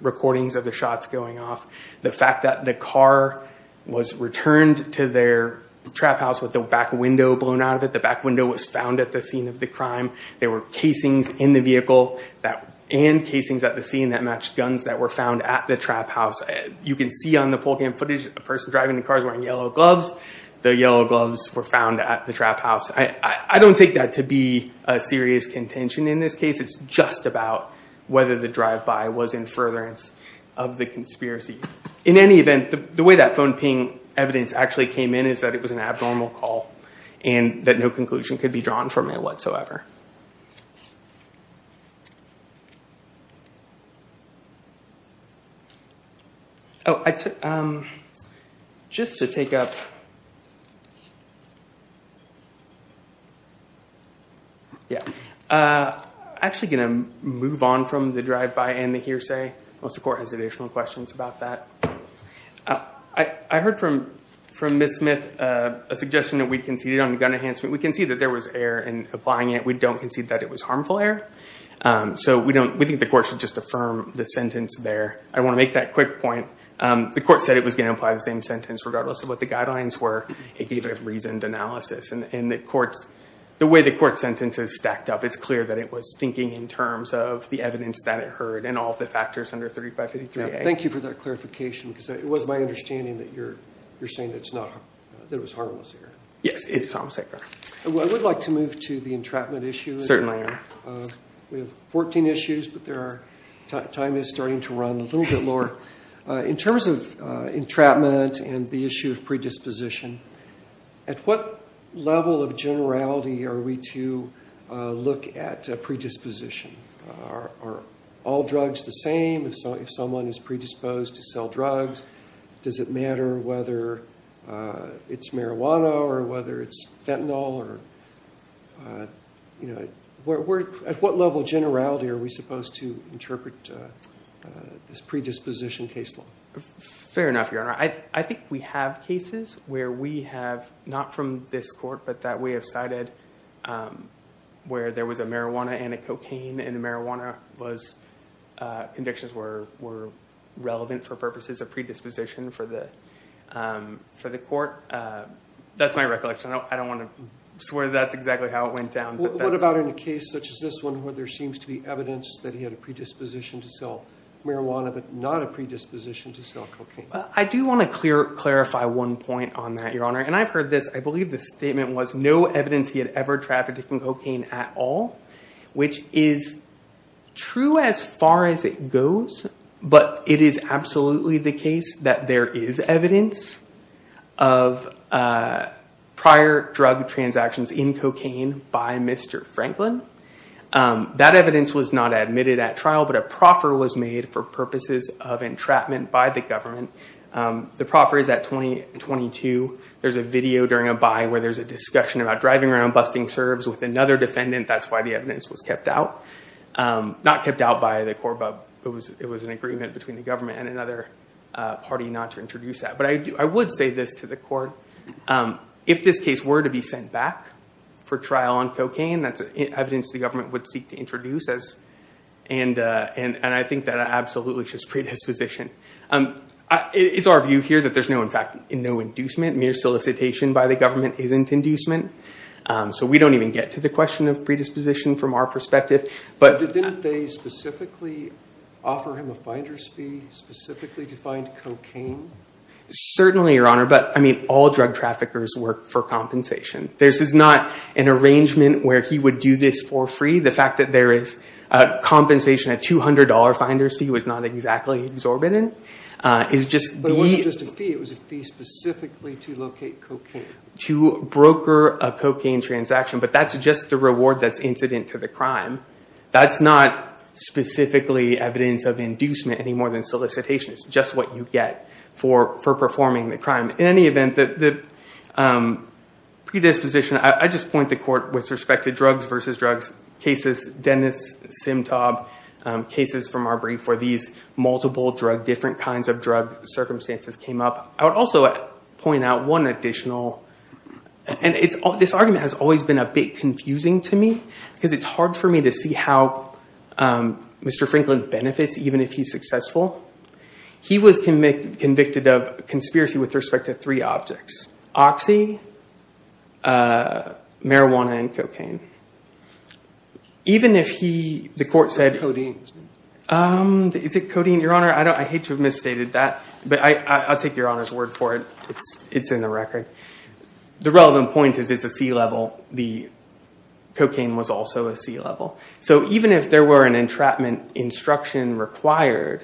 recordings of the shots going off. The fact that the car was returned to their trap house with the back window blown out of it. The back window was found at the scene of the crime. There were casings in the vehicle and casings at the scene that matched guns that were found at the trap house. You can see on the poll cam footage, a person driving the car is wearing yellow gloves. The yellow gloves were found at the trap house. I don't take that to be a serious contention in this case. It's just about whether the drive-by was in furtherance of the conspiracy. In any event, the way that phone ping evidence actually came in is that it was an abnormal call and that no conclusion could be drawn from it whatsoever. I'm actually going to move on from the drive-by and the hearsay. Most of the court has additional questions about that. I heard from Ms. Smith a suggestion that we conceded on gun enhancement. We conceded that there was error in applying it. We don't concede that it was harmful error. We think the court should just affirm the sentence there. I want to make that quick point. The court said it was going to apply the same sentence regardless of what the guidelines were. It gave it a reasoned analysis. The way the court sentence is stacked up, it's clear that it was thinking in terms of the evidence that it heard and all the factors under 3553A. Thank you for that clarification. It was my understanding that you're saying that it was harmless error. Yes, it's harmless error. I would like to move to the entrapment issue. Certainly. We have 14 issues, but time is starting to run a little bit more. In terms of entrapment and the issue of predisposition, at what level of generality are we to look at predisposition? Are all drugs the same? If someone is predisposed to sell drugs, does it matter whether it's marijuana or whether it's fentanyl? At what level of generality are we supposed to interpret this predisposition case law? Fair enough, Your Honor. I think we have cases where we have, not from this court, but that we have cited where there was a marijuana and a cocaine and the marijuana convictions were relevant for purposes of predisposition for the court. That's my recollection. I don't want to swear that's exactly how it went down. What about in a case such as this one where there seems to be evidence that he had a predisposition to sell marijuana but not a predisposition to sell cocaine? I do want to clarify one point on that, Your Honor. I've heard this. I believe the statement was, no evidence he had ever trafficked in cocaine at all, which is true as far as it goes, but it is absolutely the case that there is evidence of prior drug transactions in cocaine by Mr. Franklin. That evidence was not admitted at trial, but a proffer was made for purposes of entrapment by the government. The proffer is at 2022. There's a video during a buy where there's a discussion about driving around busting serves with another defendant. That's why the evidence was kept out. Not kept out by the court, but it was an agreement between the government and another party not to introduce that. But I would say this to the court. If this case were to be sent back for trial on cocaine, that's evidence the government would seek to introduce, and I think that absolutely should be predisposition. It's our view here that there's no inducement. Mere solicitation by the government isn't inducement, so we don't even get to the question of predisposition from our perspective. Didn't they specifically offer him a finder's fee specifically to find cocaine? Certainly, Your Honor, but all drug traffickers work for compensation. This is not an arrangement where he would do this for free. The fact that there is compensation, a $200 finder's fee was not exactly exorbitant. But it wasn't just a fee. It was a fee specifically to locate cocaine. To broker a cocaine transaction, but that's just the reward that's incident to the crime. That's not specifically evidence of inducement any more than solicitation. It's just what you get for performing the crime. In any event, the predisposition, I just point the court with respect to drugs versus drugs cases, Dennis Simtob cases from our brief where these multiple drug, different kinds of drug circumstances came up. I would also point out one additional, and this argument has always been a bit confusing to me because it's hard for me to see how Mr. Franklin benefits even if he's successful. He was convicted of conspiracy with respect to three objects, which is oxy, marijuana, and cocaine. Even if he, the court said... Is it codeine? Is it codeine? Your Honor, I hate to have misstated that, but I'll take Your Honor's word for it. It's in the record. The relevant point is it's a C level. The cocaine was also a C level. So even if there were an entrapment instruction required,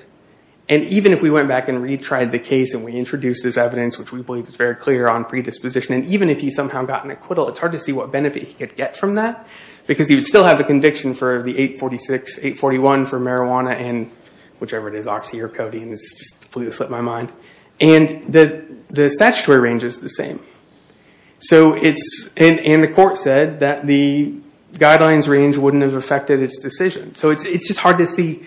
and even if we went back and retried the case and we introduced this evidence, which we believe is very clear on predisposition, and even if he somehow got an acquittal, it's hard to see what benefit he could get from that because he would still have the conviction for the 846, 841 for marijuana and whichever it is, oxy or codeine. It's just completely slipped my mind. And the statutory range is the same. And the court said that the guidelines range wouldn't have affected its decision. So it's just hard to see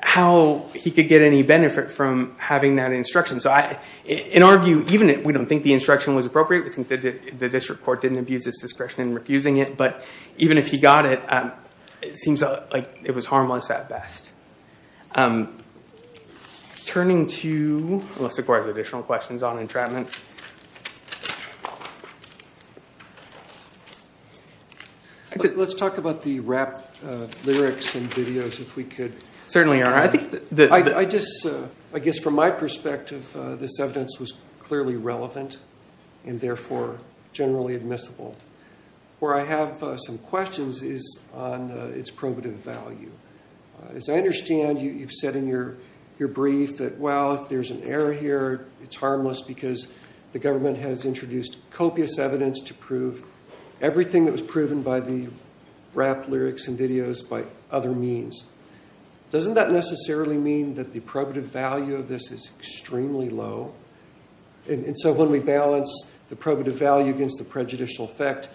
how he could get any benefit from having that instruction. So in our view, even if we don't think the instruction was appropriate, we think that the district court didn't abuse its discretion in refusing it, but even if he got it, it seems like it was harmless at best. Turning to Melissa Gore's additional questions on entrapment. Let's talk about the rap lyrics and videos if we could. Certainly, Your Honor. I guess from my perspective, this evidence was clearly relevant and therefore generally admissible. Where I have some questions is on its probative value. As I understand, you've said in your brief that, well, if there's an error here, it's harmless because the government has introduced copious evidence to prove everything that was proven by the rap lyrics and videos by other means. Doesn't that necessarily mean that the probative value of this is extremely low? And so when we balance the probative value against the prejudicial effect,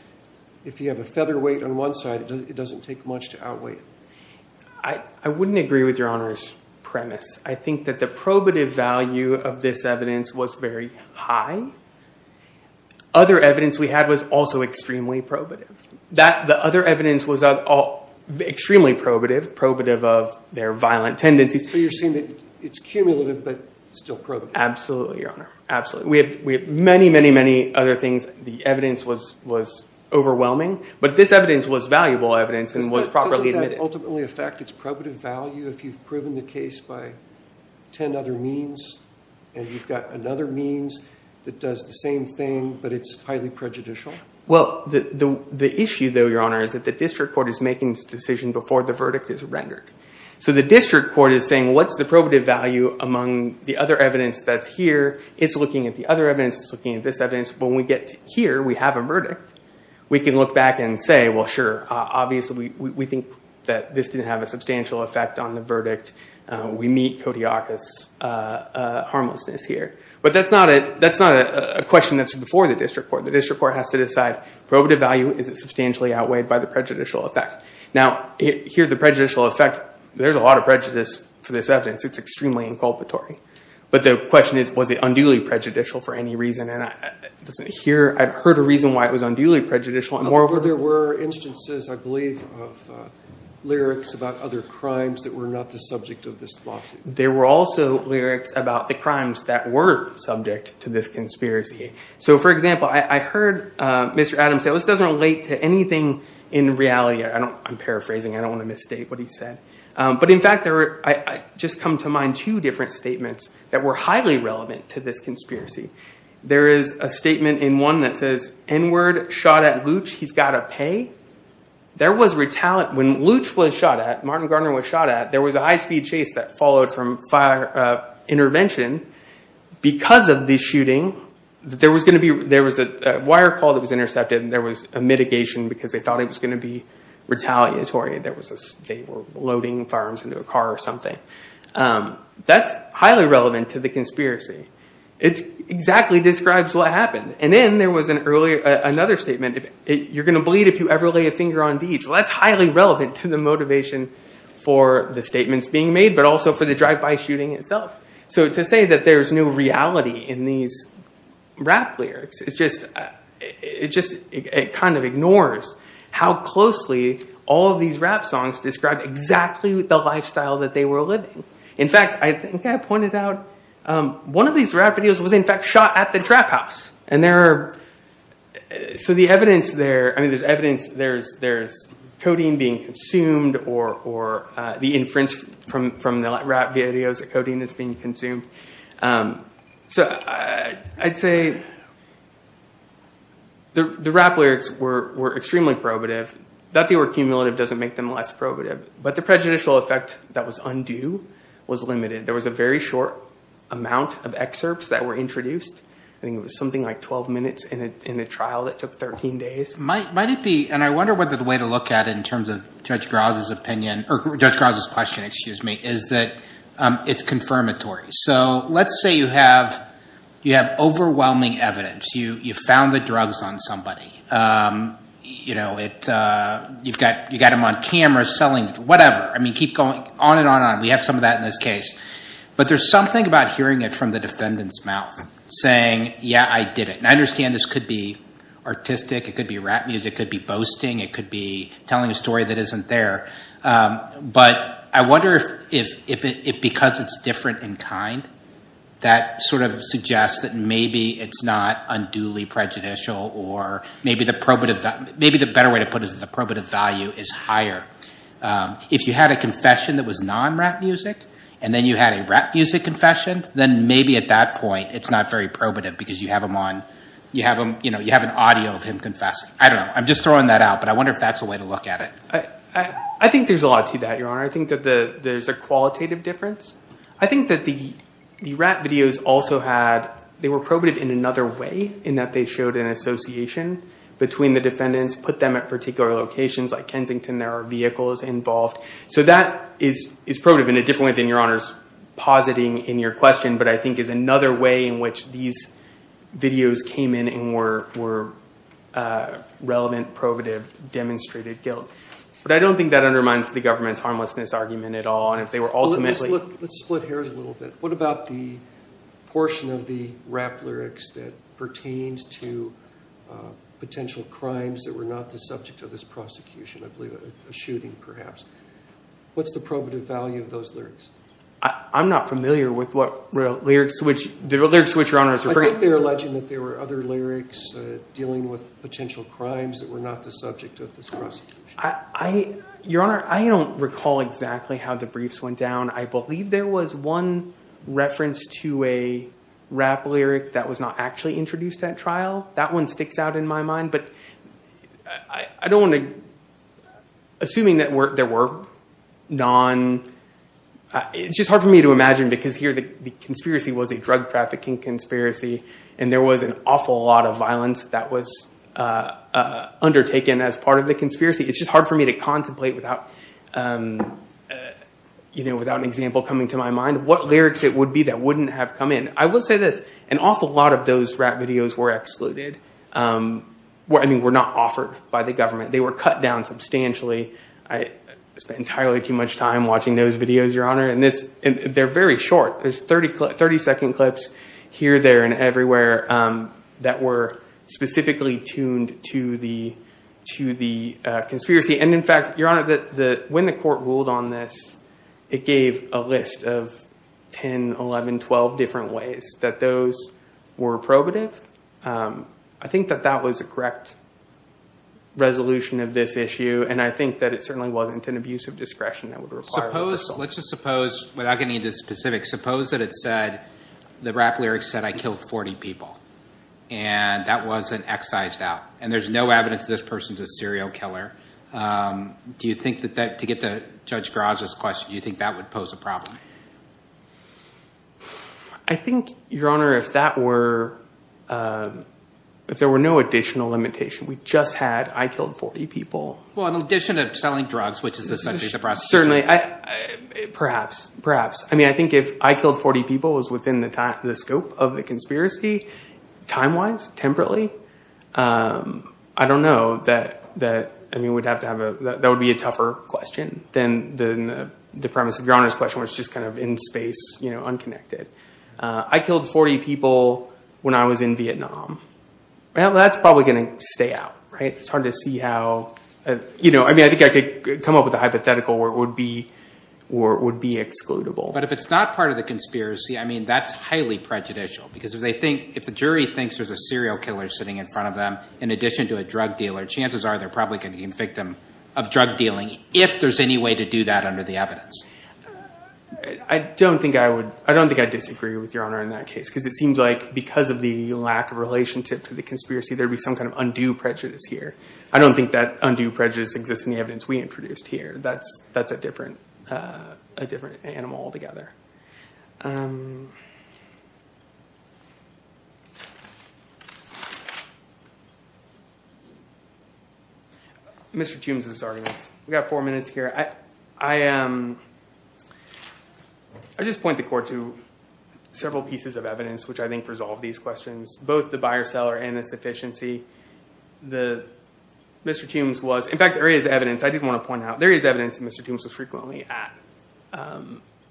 if you have a featherweight on one side, it doesn't take much to outweigh it. I wouldn't agree with Your Honor's premise. I think that the probative value of this evidence was very high. Other evidence we had was also extremely probative. The other evidence was extremely probative, probative of their violent tendencies. So you're saying that it's cumulative but still probative. Absolutely, Your Honor. Absolutely. We have many, many, many other things. The evidence was overwhelming. But this evidence was valuable evidence and was properly admitted. Doesn't that ultimately affect its probative value if you've proven the case by 10 other means and you've got another means that does the same thing but it's highly prejudicial? Well, the issue, though, Your Honor, is that the district court is making this decision before the verdict is rendered. So the district court is saying, what's the probative value among the other evidence that's here? It's looking at the other evidence. It's looking at this evidence. When we get here, we have a verdict. We can look back and say, well, sure. Obviously, we think that this didn't have a substantial effect on the verdict. We meet Kodiakos' harmlessness here. But that's not a question that's before the district court. The district court has to decide probative value. Is it substantially outweighed by the prejudicial effect? Now, here, the prejudicial effect, there's a lot of prejudice for this evidence. It's extremely inculpatory. But the question is, was it unduly prejudicial for any reason? And here, I've heard a reason why it was unduly prejudicial. And moreover, there were instances, I believe, of lyrics about other crimes that were not the subject of this lawsuit. There were also lyrics about the crimes that were subject to this conspiracy. So for example, I heard Mr. Adams say, this doesn't relate to anything in reality. I'm paraphrasing. I don't want to misstate what he said. But in fact, I just come to mind two different statements that were highly relevant to this conspiracy. There is a statement in one that says, N-word, shot at Looch, he's got to pay. There was retaliation. When Looch was shot at, Martin Gardner was shot at, there was a high-speed chase that followed from fire intervention. Because of the shooting, there was a wire call that was intercepted, and there was a mitigation because they thought it was going to be retaliatory. They were loading firearms into a car or something. That's highly relevant to the conspiracy. It exactly describes what happened. And then there was another statement. You're going to bleed if you ever lay a finger on Deej. That's highly relevant to the motivation for the statements being made, but also for the drive-by shooting itself. So to say that there is no reality in these rap lyrics, it kind of ignores how closely all of these rap songs describe exactly the lifestyle that they were living. In fact, I think I pointed out one of these rap videos was, in fact, shot at the trap house. So the evidence there, I mean, there's codeine being consumed, or the inference from the rap videos, the codeine is being consumed. So I'd say the rap lyrics were extremely probative. That they were cumulative doesn't make them less probative. But the prejudicial effect that was undue was limited. There was a very short amount of excerpts that were introduced. I think it was something like 12 minutes in a trial that took 13 days. Might it be, and I wonder whether the way to look at it in terms of Judge Groz's opinion, or Judge Groz's question, excuse me, is that it's confirmatory. So let's say you have overwhelming evidence. You found the drugs on somebody. You've got him on camera selling whatever. I mean, keep going on and on and on. We have some of that in this case. But there's something about hearing it from the defendant's mouth saying, yeah, I did it. And I understand this could be artistic. It could be rap music. It could be boasting. It could be telling a story that isn't there. But I wonder if because it's different in kind, that sort of suggests that maybe it's not unduly prejudicial. Or maybe the better way to put it is the probative value is higher. If you had a confession that was non-rap music, and then you had a rap music confession, then maybe at that point it's not very probative. Because you have an audio of him confessing. I don't know. I'm just throwing that out. But I wonder if that's a way to look at it. I think there's a lot to that, Your Honor. I think that there's a qualitative difference. I think that the rap videos also had, they were probative in another way, in that they showed an association between the defendants, put them at particular locations. Like Kensington, there are vehicles involved. So that is probative in a different way than Your Honor's positing in your question. But I think is another way in which these videos came in and were relevant, probative, demonstrated guilt. But I don't think that undermines the government's harmlessness argument at all. And if they were ultimately- Let's split hairs a little bit. What about the portion of the rap lyrics that pertained to potential crimes that were not the subject of this prosecution? I believe a shooting, perhaps. What's the probative value of those lyrics? I'm not familiar with what the lyrics to which Your Honor is referring. I think they're alleging that there were other lyrics dealing with potential crimes that were not the subject of this prosecution. Your Honor, I don't recall exactly how the briefs went down. I believe there was one reference to a rap lyric that was not actually introduced at trial. That one sticks out in my mind. I don't want to- Assuming that there were non- It's just hard for me to imagine, because here the conspiracy was a drug trafficking conspiracy. And there was an awful lot of violence that was undertaken as part of the conspiracy. It's just hard for me to contemplate without an example coming to my mind what lyrics it would be that wouldn't have come in. I will say this. An awful lot of those rap videos were excluded. I mean, were not offered by the government. They were cut down substantially. I spent entirely too much time watching those videos, Your Honor. They're very short. There's 30-second clips here, there, and everywhere that were specifically tuned to the conspiracy. And in fact, Your Honor, when the court ruled on this, it gave a list of 10, 11, 12 different ways that those were probative. I think that that was a correct resolution of this issue. And I think that it certainly wasn't an abuse of discretion that would require reversal. Let's just suppose, without getting into specifics, suppose that it said, the rap lyrics said, I killed 40 people. And that wasn't excised out. And there's no evidence this person's a serial killer. Do you think that that, to get to Judge Graza's question, do you think that would pose a problem? I think, Your Honor, if that were, if there were no additional limitation, we just had, I killed 40 people. Well, in addition to selling drugs, which is essentially the prostitution. Certainly. Perhaps, perhaps. I mean, I think if I killed 40 people was within the scope of the conspiracy, time-wise, temporally, I don't know. I mean, that would be a tougher question than the premise of Your Honor's question, where it's just kind of in space, you know, unconnected. I killed 40 people when I was in Vietnam. Well, that's probably going to stay out, right? It's hard to see how, you know, I mean, I think I could come up with a hypothetical where it would be excludable. But if it's not part of the conspiracy, I mean, that's highly prejudicial. Because if they think, if the jury thinks there's a serial killer sitting in front of them, in addition to a drug dealer, chances are they're probably going to be a victim of drug dealing, if there's any way to do that under the evidence. I don't think I would, I don't think I'd disagree with Your Honor in that case. Because it seems like, because of the lack of relationship to the conspiracy, there'd be some kind of undue prejudice here. I don't think that undue prejudice exists in the evidence we introduced here. That's a different animal altogether. Mr. Toombs' arguments. We've got four minutes here. I am, I just point the court to several pieces of evidence which I think resolve these questions. Both the buyer-seller and its efficiency. The, Mr. Toombs was, in fact, there is evidence, I did want to point out, there is evidence that Mr. Toombs was frequently at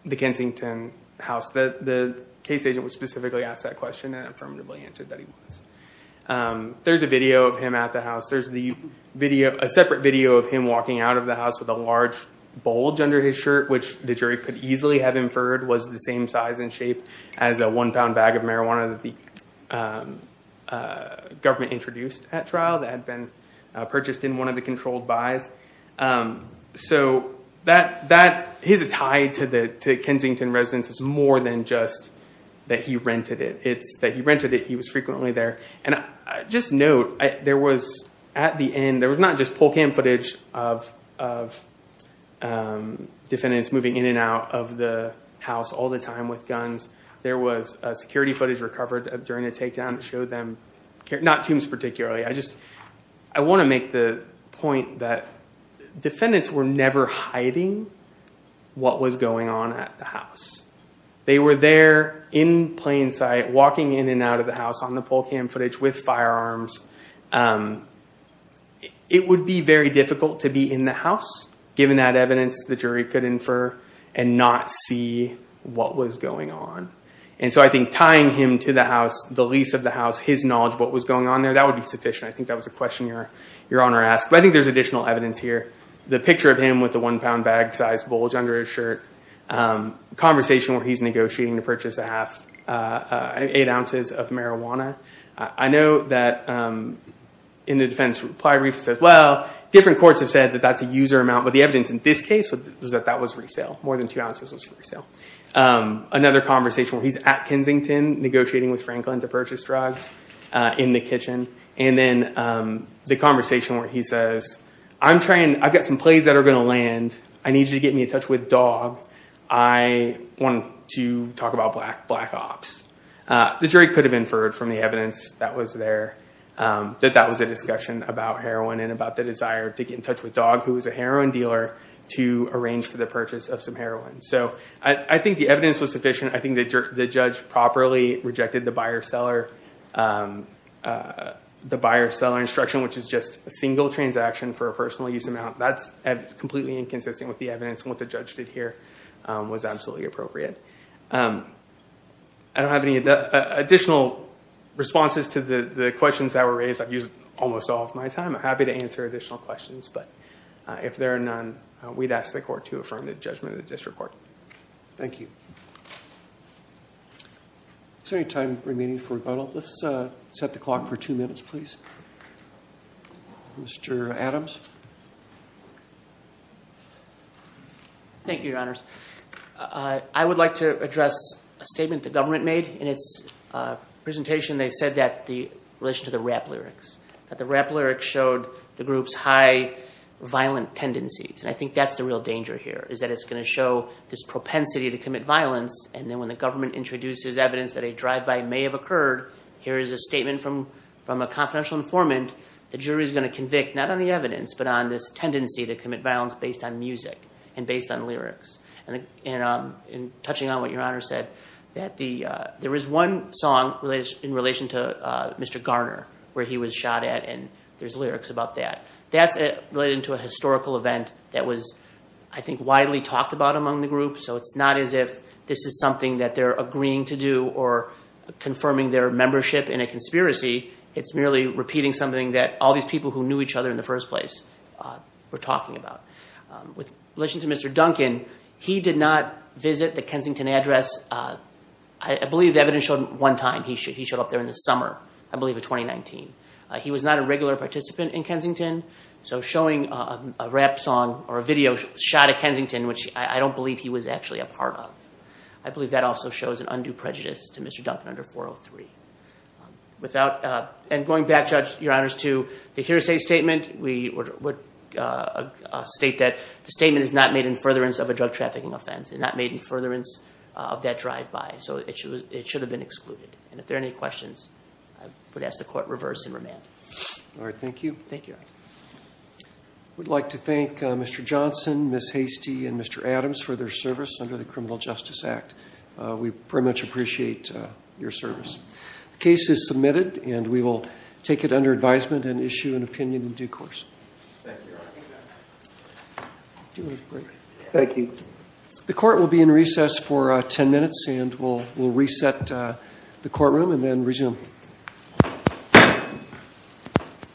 the Kensington house. The case agent was specifically asked that question and affirmatively answered that he was. There's a video of him at the house. There's the video, a separate video of him walking out of the house with a large bulge under his shirt, which the jury could easily have inferred was the same size and shape as a one-pound bag of marijuana that the government introduced at trial that had been purchased in one of the controlled buys. So that, his tie to the Kensington residence is more than just that he rented it. It's that he rented it, he was frequently there. And just note, there was at the end, there was not just pull cam footage of defendants moving in and out of the house all the time with guns. There was security footage recovered during the takedown that showed them, not Toombs particularly, I just, I want to make the point that defendants were never hiding what was going on at the house. They were there in plain sight walking in and out of the house on the pull cam footage with firearms It would be very difficult to be in the house given that evidence the jury could infer and not see what was going on. And so I think tying him to the house, the lease of the house, his knowledge of what was going on there, that would be sufficient. I think that was a question your Honor asked. But I think there's additional evidence here. The picture of him with the one-pound bag-sized bulge under his shirt, conversation where he's negotiating to purchase eight ounces of marijuana. I know that in the defendant's reply, Reif says, well, different courts have said that that's a user amount. But the evidence in this case was that that was resale. More than two ounces was resale. Another conversation where he's at Kensington negotiating with Franklin to purchase drugs in the kitchen. And then the conversation where he says, I'm trying, I've got some plays that are going to land. I need you to get me in touch with Dog. I want to talk about black ops. The jury could have inferred from the evidence that was there that that was a discussion about heroin and about the desire to get in touch with Dog, who was a heroin dealer, to arrange for the purchase of some heroin. So I think the evidence was sufficient. I think the judge properly rejected the buyer-seller instruction, which is just a single transaction for a personal use amount. That's completely inconsistent with the evidence and what the judge did here was absolutely appropriate. I don't have any additional responses to the questions that were raised. I've used almost all of my time. I'm happy to answer additional questions, but if there are none, we'd ask the court to affirm the judgment of the district court. Thank you. Is there any time remaining for rebuttal? Let's set the clock for two minutes, please. Mr. Adams? Thank you, Your Honors. I would like to address a statement the government made in its presentation. They said that the rap lyrics showed the group's high violent tendencies, and I think that's the real danger here is that it's going to show this propensity to commit violence, and then when the government introduces evidence that a drive-by may have occurred, here is a statement from a confidential informant. The jury is going to convict not on the evidence, but on this tendency to commit violence based on music and based on lyrics. Touching on what Your Honor said, there is one song in relation to Mr. Garner where he was shot at, and there's lyrics about that. That's related to a historical event that was, I think, widely talked about among the group, so it's not as if this is something that they're agreeing to do or confirming their membership in a conspiracy. It's merely repeating something that all these people who knew each other in the first place were talking about. In relation to Mr. Duncan, he did not visit the Kensington address. I believe the evidence showed one time he showed up there in the summer, I believe of 2019. He was not a regular participant in Kensington, so showing a rap song or a video shot at Kensington, which I don't believe he was actually a part of, I believe that also shows an undue prejudice to Mr. Duncan under 403. And going back, Judge, Your Honors, to the hearsay statement, we would state that the statement is not made in furtherance of a drug trafficking offense. It's not made in furtherance of that drive-by, so it should have been excluded. And if there are any questions, I would ask the Court reverse and remand. All right, thank you. Thank you, Your Honor. We'd like to thank Mr. Johnson, Ms. Hastie, and Mr. Adams for their service under the Criminal Justice Act. We very much appreciate your service. The case is submitted, and we will take it under advisement and issue an opinion in due course. Thank you, Your Honor. Thank you. The Court will be in recess for 10 minutes, and we'll reset the courtroom and then resume.